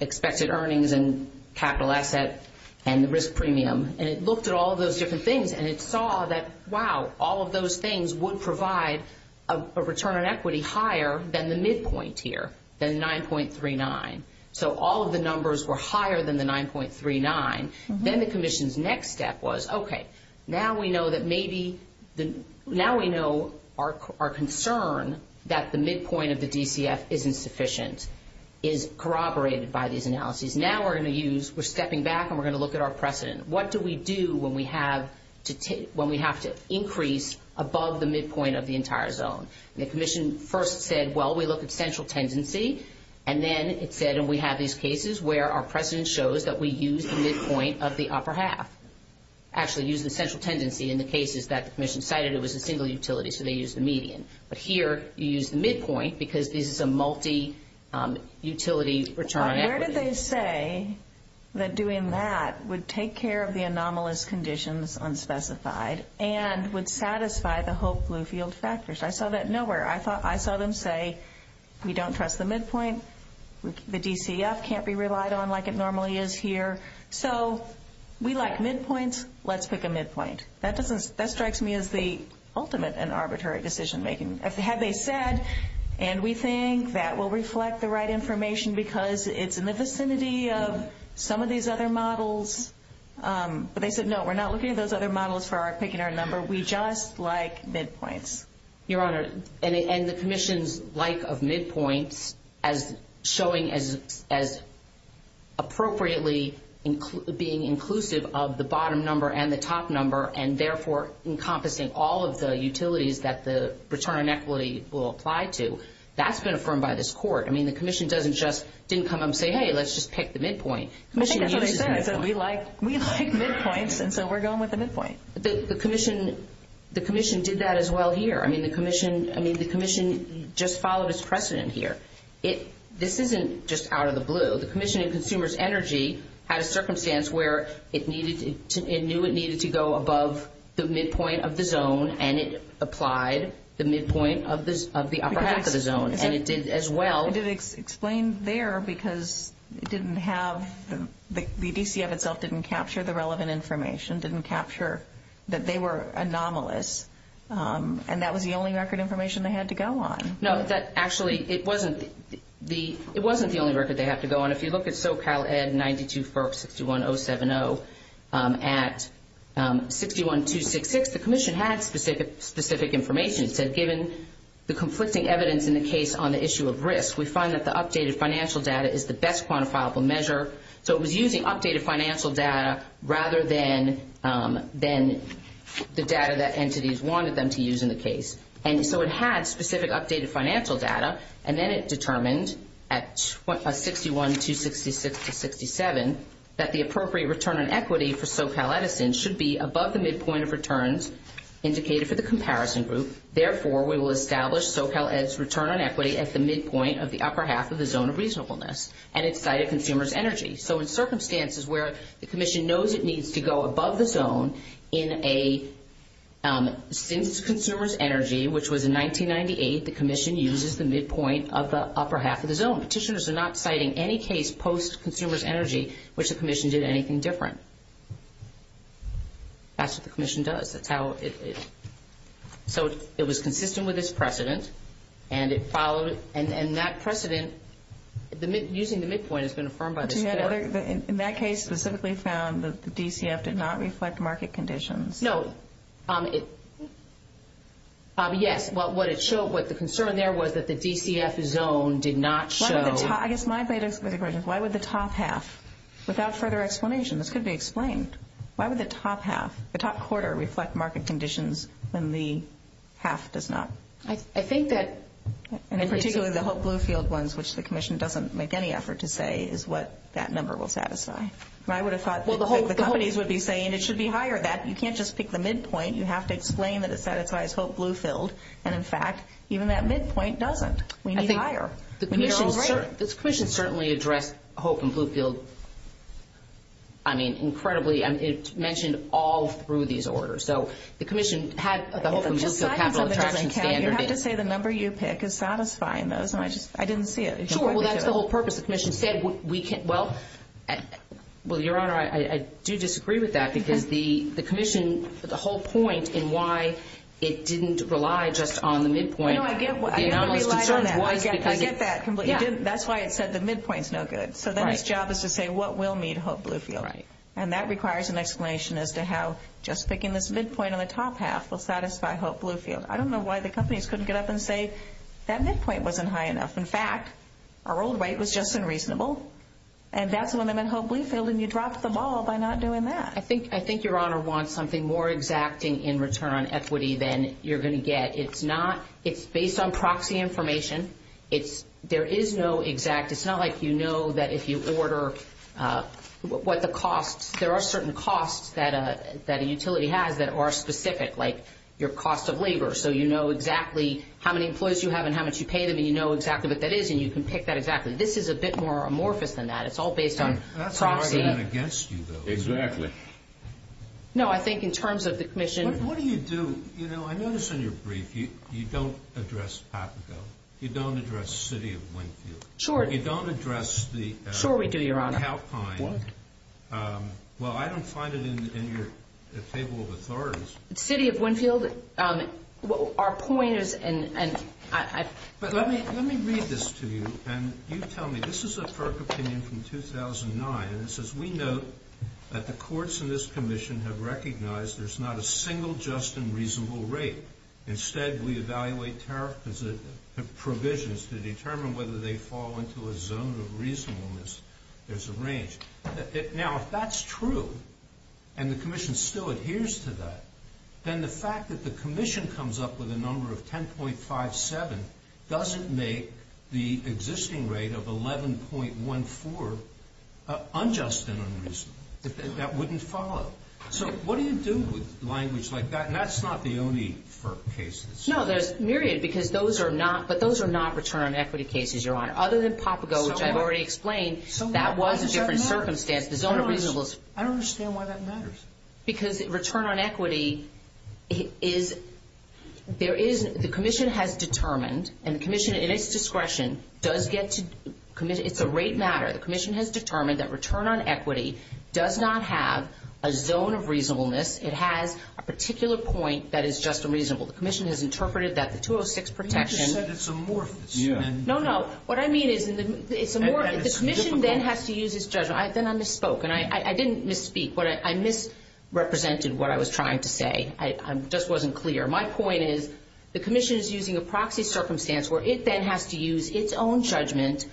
expected earnings and capital assets and the risk premium. And it looked at all of those different things, and it saw that, wow, all of those things would provide a return on equity higher than the midpoint here, than 9.39. So all of the numbers were higher than the 9.39. Then the commission's next step was, okay, now we know that maybe the ñ now we know our concern that the midpoint of the DCF isn't sufficient is corroborated by these analyses. Now we're going to use, we're stepping back and we're going to look at our precedent. What do we do when we have to increase above the midpoint of the entire zone? And the commission first said, well, we look at central tendency, and then it said, and we have these cases where our precedent shows that we use the midpoint of the upper half, actually use the central tendency in the cases that the commission cited. It was a single utility, so they used the median. But here you use the midpoint because this is a multi-utility return. Where did they say that doing that would take care of the anomalous conditions unspecified and would satisfy the HOPE Bluefields factors? I saw that nowhere. I saw them say we don't trust the midpoint, the DCF can't be relied on like it normally is here. So we like midpoints. Let's pick a midpoint. That strikes me as the ultimate in arbitrary decision-making. As they said, and we think that will reflect the right information because it's in the vicinity of some of these other models. But they said, no, we're not looking at those other models for our particular number. We just like midpoints. Your Honor, and the commission's like of midpoints as showing as appropriately being inclusive of the bottom number and the top number, and therefore encompassing all of the utilities that the return on equity will apply to. That's been affirmed by this court. I mean, the commission didn't come up and say, hey, let's just pick the midpoint. We like midpoints, and so we're going with the midpoint. The commission did that as well here. I mean, the commission just followed its precedent here. This isn't just out of the blue. The commission and consumers energy had a circumstance where it knew it needed to go above the midpoint of the zone, and it applied the midpoint of the upper half of the zone, and it did as well. But it explained there because it didn't have the DCF itself didn't capture the relevant information, didn't capture that they were anomalous, and that was the only record information they had to go on. No, actually, it wasn't the only record they had to go on. If you look at SoCalEd 92461070 at 61266, the commission had specific information. It said, given the conflicting evidence in the case on the issue of risk, we find that the updated financial data is the best quantifiable measure. So it was using updated financial data rather than the data that entities wanted them to use in the case. And so it had specific updated financial data, and then it determined at 6126667 that the appropriate return on equity for SoCalEd should be above the midpoint of returns indicated for the comparison group. Therefore, we will establish SoCalEd's return on equity at the midpoint of the upper half of the zone of reasonableness, and it cited consumers energy. So in circumstances where the commission knows it needs to go above the zone in a consumer's energy, which was in 1998, the commission uses the midpoint of the upper half of the zone. Petitioners are not citing any case post-consumer's energy which the commission did anything different. That's what the commission does. So it was consistent with this precedent, and it followed, and that precedent, using the midpoint has been affirmed by this precedent. In that case, specifically found that the DCF did not reflect market conditions. No. Yes. What the concern there was that the DCF zone did not show. I guess my bit of a question is why would the top half, without further explanation, this could be explained. Why would the top half, the top quarter reflect market conditions when the half does not? I think that, and particularly the Hope Bluefield ones, which the commission doesn't make any effort to say is what that number will satisfy. I would have thought the companies would be saying it should be higher. You can't just pick the midpoint. You have to explain that it satisfies Hope Bluefield, and in fact, even that midpoint doesn't. We need higher. The commission certainly addressed Hope and Bluefield, I mean, incredibly, and it's mentioned all through these orders. So, the commission had, the Hope and Bluefield have no traction standard. You have to say the number you pick is satisfying, though. I didn't see it. Sure, well, that's the whole purpose. The commission said we can't, well, well, Your Honor, I do disagree with that because the commission, the whole point in why it didn't rely just on the midpoint. No, I get what you're saying. I get that completely. That's why it said the midpoint's no good. So, then its job is to say what will meet Hope Bluefield. And that requires an explanation as to how just picking this midpoint on the top half will satisfy Hope Bluefield. I don't know why the companies couldn't get up and say that midpoint wasn't high enough. In fact, our old rate was just unreasonable, and that's when they meant Hope Bluefield, and you dropped the ball by not doing that. I think Your Honor wants something more exacting in return on equity than you're going to get. It's based on proxy information. There is no exact. It's not like you know that if you order what the cost, there are certain costs that a utility has that are specific, like your cost of labor. So, you know exactly how many employees you have and how much you pay them, and you know exactly what that is, and you can pick that exactly. This is a bit more amorphous than that. It's all based on proxy. That's probably not against you, though. Exactly. No, I think in terms of the commission. What do you do? You know, I noticed in your brief you don't address Papago. You don't address the city of Bloomfield. Sure. You don't address the town of Halpine. Sure we do, Your Honor. Well, I don't find it in your fable of authorities. The city of Bloomfield, our point is, and I... But let me read this to you, and you tell me. This is a FERC opinion from 2009, and it says, We note that the courts in this commission have recognized there's not a single just and reasonable rate. Instead, we evaluate tariff provisions to determine whether they fall into a zone of reasonableness. There's a range. Now, if that's true, and the commission still adheres to that, then the fact that the commission comes up with a number of 10.57 doesn't make the existing rate of 11.14 unjust and unreasonable. That wouldn't follow. So what do you do with language like that? That's not the only FERC case. No, there's a myriad, but those are not return on equity cases, Your Honor. Other than Papago, which I've already explained, that was a different circumstance. The zone of reasonableness. I don't understand why that matters. Because return on equity is, there is, the commission has determined, and the commission in its discretion does get to, it's a rate matter. The commission has determined that return on equity does not have a zone of reasonableness. It has a particular point that is just and reasonable. The commission has interpreted that the 206 perfection. You just said it's amorphous. No, no. What I mean is it's amorphous. The commission then has to use its judgment. Then I misspoke, and I didn't misspeak. I misrepresented what I was trying to say. I just wasn't clear. My point is the commission is using a proxy circumstance where it then has to use its own judgment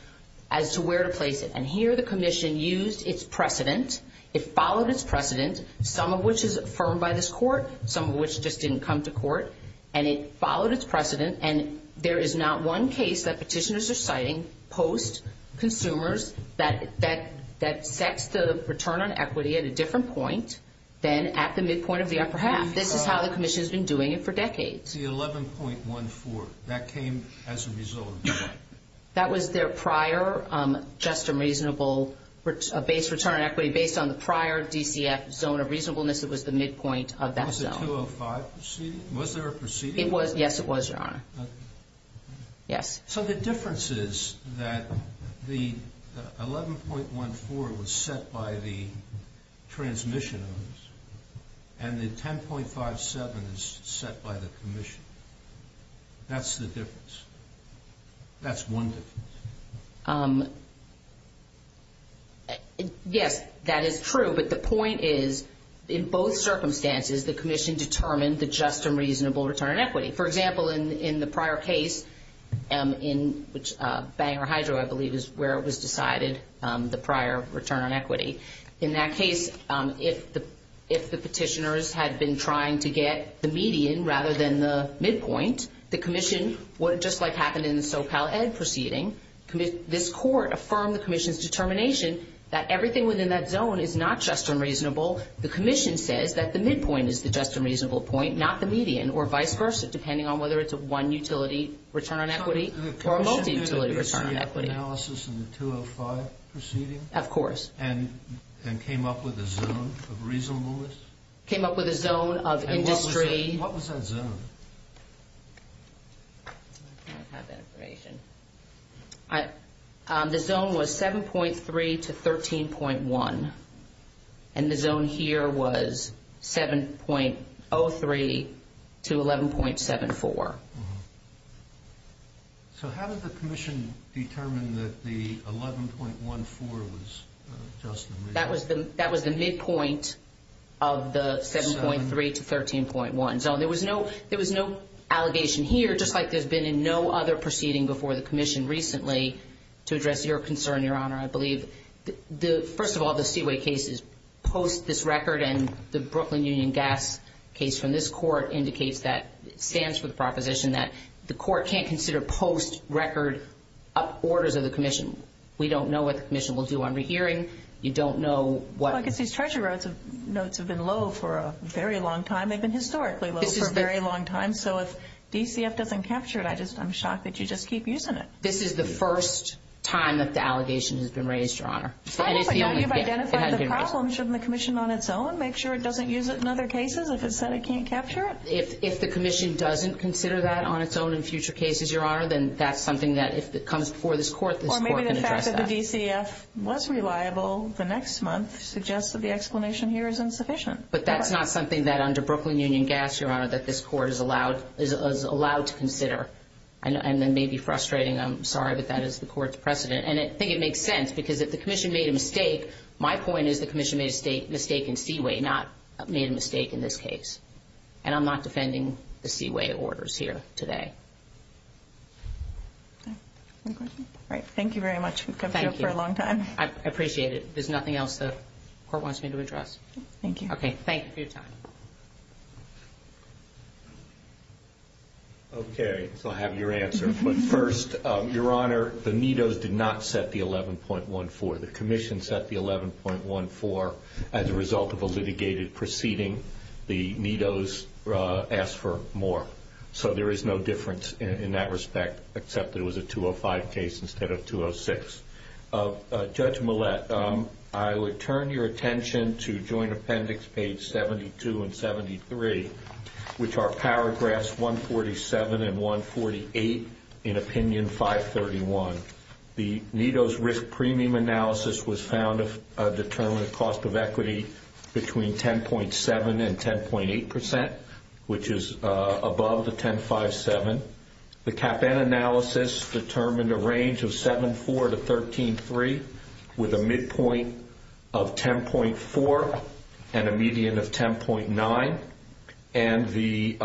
as to where to place it. And here the commission used its precedent. It followed its precedent. Some of which is affirmed by this court. Some of which just didn't come to court. And it followed its precedent. And there is not one case that petitioners are citing post-consumers that sets the return on equity at a different point than at the midpoint of the upper half. This is how the commission has been doing it for decades. The 11.14. That came as a result of that. That was their prior just a reasonable base return on equity based on the prior DTF zone of reasonableness. It was the midpoint of that zone. Was the 205 proceeding? Was there a proceeding? It was. Yes, it was, Your Honor. Okay. Yes. So the difference is that the 11.14 was set by the transmission. And the 10.57 is set by the commission. That's the difference. That's one difference. Yes, that is true. But the point is, in both circumstances, the commission determined the just and reasonable return on equity. For example, in the prior case, in which Bangor Hydro, I believe, is where it was decided, the prior return on equity. In that case, if the petitioners had been trying to get the median rather than the midpoint, the commission, what just like happened in the SoCalEd proceeding, this court affirmed the commission's determination that everything within that zone is not just and reasonable. The commission says that the midpoint is the just and reasonable point, not the median, or vice versa, depending on whether it's a one-utility return on equity or a multi-utility return on equity. Could you repeat the analysis in the 205 proceeding? Of course. And came up with a zone of reasonableness? Came up with a zone of industry. What was that zone? The zone was 7.3 to 13.1. And the zone here was 7.03 to 11.74. So how did the commission determine that the 11.14 was just and reasonable? That was the midpoint of the 7.3 to 13.1 zone. There was no allegation here, just like there's been in no other proceeding before the commission recently, to address your concern, Your Honor, I believe. First of all, the Seaway case is post this record, and the Brooklyn Union Gas case from this court indicates that the court can't consider post-record orders of the commission. We don't know what the commission will do on the hearing. You don't know what... Well, I guess these treasury notes have been low for a very long time. They've been historically low for a very long time. So if DCF doesn't capture it, I'm shocked that you just keep using it. This is the first time that the allegation has been raised, Your Honor. Well, but now you've identified the problems. Shouldn't the commission on its own make sure it doesn't use it in other cases if it said it can't capture it? If the commission doesn't consider that on its own in future cases, Your Honor, then that's something that if it comes before this court, this court can address that. Or maybe the fact that the DCF was reliable the next month suggests that the explanation here is insufficient. But that's not something that under Brooklyn Union Gas, Your Honor, that this court is allowed to consider. And that may be frustrating. I'm sorry that that is the court's precedent. And I think it makes sense because if the commission made a mistake, my point is the commission made a mistake in Seaway, not made a mistake in this case. And I'm not defending the Seaway orders here today. Any questions? All right. Thank you very much. We've kept you up for a long time. Thank you. I appreciate it. If there's nothing else the court wants me to address. Thank you. Okay. Thank you for your time. Okay. So I have your answer. First, Your Honor, the METOS did not set the 11.14. The commission set the 11.14 as a result of a litigated proceeding. The METOS asked for more. So there is no difference in that respect, except it was a 205 case instead of 206. Judge Millett, I would turn your attention to joint appendix page 72 and 73, which are paragraphs 147 and 148 in opinion 531. The METOS risk premium analysis was found to determine the cost of equity between 10.7 and 10.8 percent, which is above the 10.57. The CAPAN analysis determined a range of 7.4 to 13.3 with a midpoint of 10.4 and a median of 10.9. And the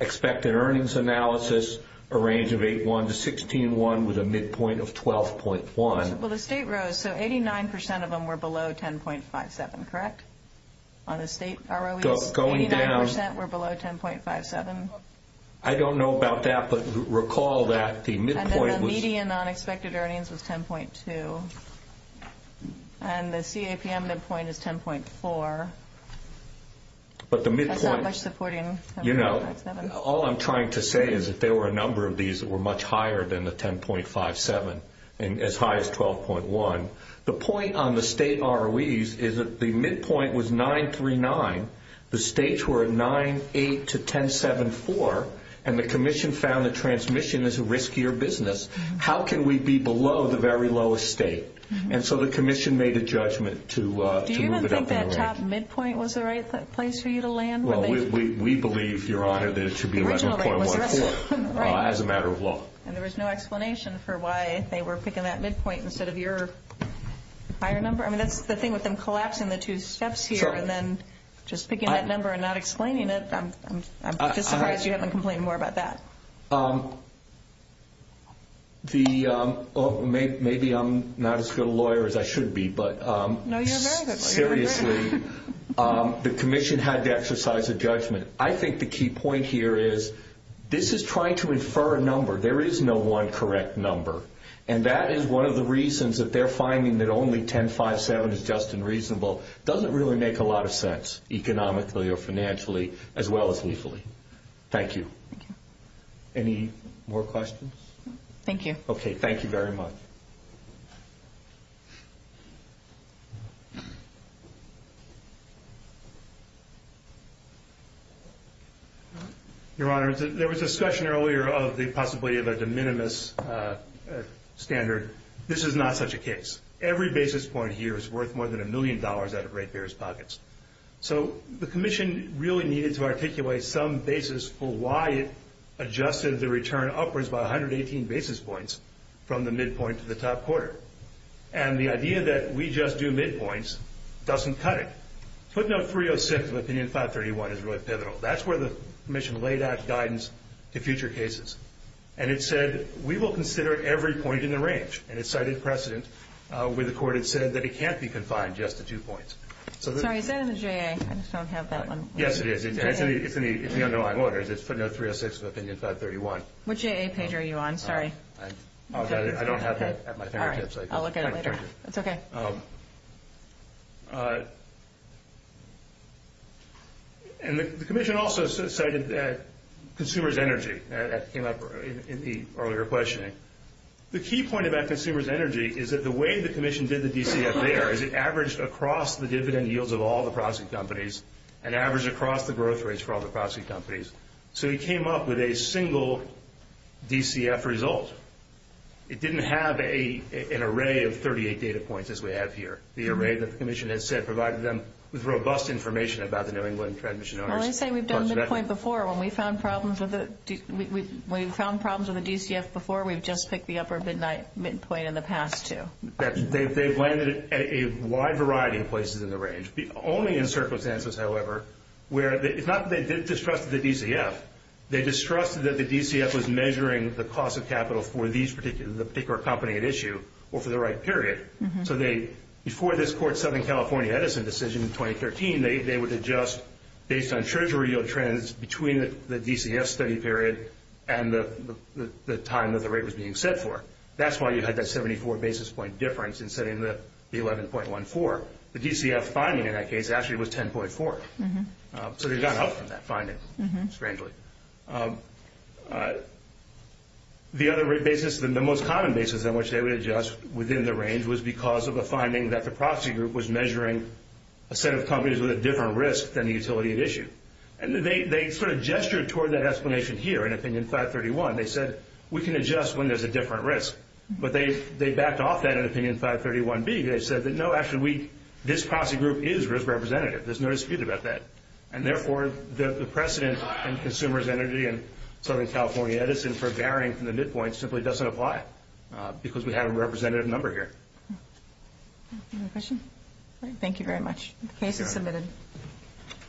expected earnings analysis, a range of 8.1 to 16.1 with a midpoint of 12.1. Well, the state rose, so 89 percent of them were below 10.57, correct? On the state ROE, 89 percent were below 10.57? I don't know about that, but recall that the midpoint was... And then the median on expected earnings was 10.2. And the CAPM midpoint is 10.4. But the midpoint... That's not much supporting 10.57. All I'm trying to say is that there were a number of these that were much higher than the 10.57 and as high as 12.1. The point on the state ROEs is that the midpoint was 9 through 9. The states were 9, 8 to 10.74, and the commission found that transmission is a riskier business. How can we be below the very lowest state? And so the commission made a judgment to move it up. Do you think that top midpoint was the right place for you to land? Well, we believe, Your Honor, that it should be 11.14 as a matter of law. And there was no explanation for why they were picking that midpoint instead of your higher number? I mean, that's the thing with them collapsing the two steps here and then just picking that number and not explaining it. I'm just surprised you haven't complained more about that. Maybe I'm not as good a lawyer as I should be, but... The commission had to exercise a judgment. I think the key point here is this is trying to infer a number. There is no one correct number, and that is one of the reasons that they're finding that only 10.57 is just and reasonable. It doesn't really make a lot of sense economically or financially as well as legally. Thank you. Any more questions? Thank you. Okay, thank you very much. Your Honor, there was discussion earlier of the possibility of a de minimis standard. This is not such a case. Every basis point here is worth more than a million dollars out of Red Bear's pockets. So the commission really needed to articulate some basis for why it adjusted the return upwards by 118 basis points from the midpoint to the top quarter. And the idea that we just do midpoints doesn't cut it. All right. Putting up 306 with opinion 531 is really pivotal. That's where the commission laid out guidance to future cases. And it said we will consider every point in the range. And it cited precedent where the court had said that it can't be confined just to two points. Sorry, is that in the JA? I just don't have that one. Yes, it is. It's the underlying order. It's putting up 306 with opinion 531. Which JA page are you on? Sorry. I don't have that at my fingertips. I'll look at it later. It's okay. And the commission also cited consumer's energy that came up in the earlier questioning. The key point about consumer's energy is that the way the commission did the DCF there is it averaged across the dividend yields of all the proxy companies and averaged across the growth rates for all the proxy companies. So you came up with a single DCF result. It didn't have an array of 38 data points as we have here. The array that the commission has said provided them with robust information about the New England transmission owners. I would say we've done this point before. When we found problems with the DCF before, we've just picked the upper midpoint in the past, too. They've landed at a wide variety of places in the range. Only in circumstances, however, where it's not that they didn't distrust the DCF. They distrusted that the DCF was measuring the cost of capital for the particular company at issue or for the right period. So before this Court Southern California Edison decision in 2013, they would adjust based on treasury yield trends between the DCF study period and the time that the rate was being set for. That's why you had that 74 basis point difference instead of the 11.14. The DCF finding in that case actually was 10.4. So they've gone up from that finding, strangely. The other rate basis, the most common basis on which they would adjust within the range, was because of a finding that the proxy group was measuring a set of companies with a different risk than the utility at issue. And they sort of gestured toward that explanation here. And I think in 531, they said, we can adjust when there's a different risk. But they backed off that in 531B. They said, no, actually, this proxy group is risk representative. There's no dispute about that. And therefore, the precedent in Consumers Energy and Southern California Edison for varying from the midpoint simply doesn't apply, because we have a representative number here. Any other questions? Thank you very much. The case is submitted.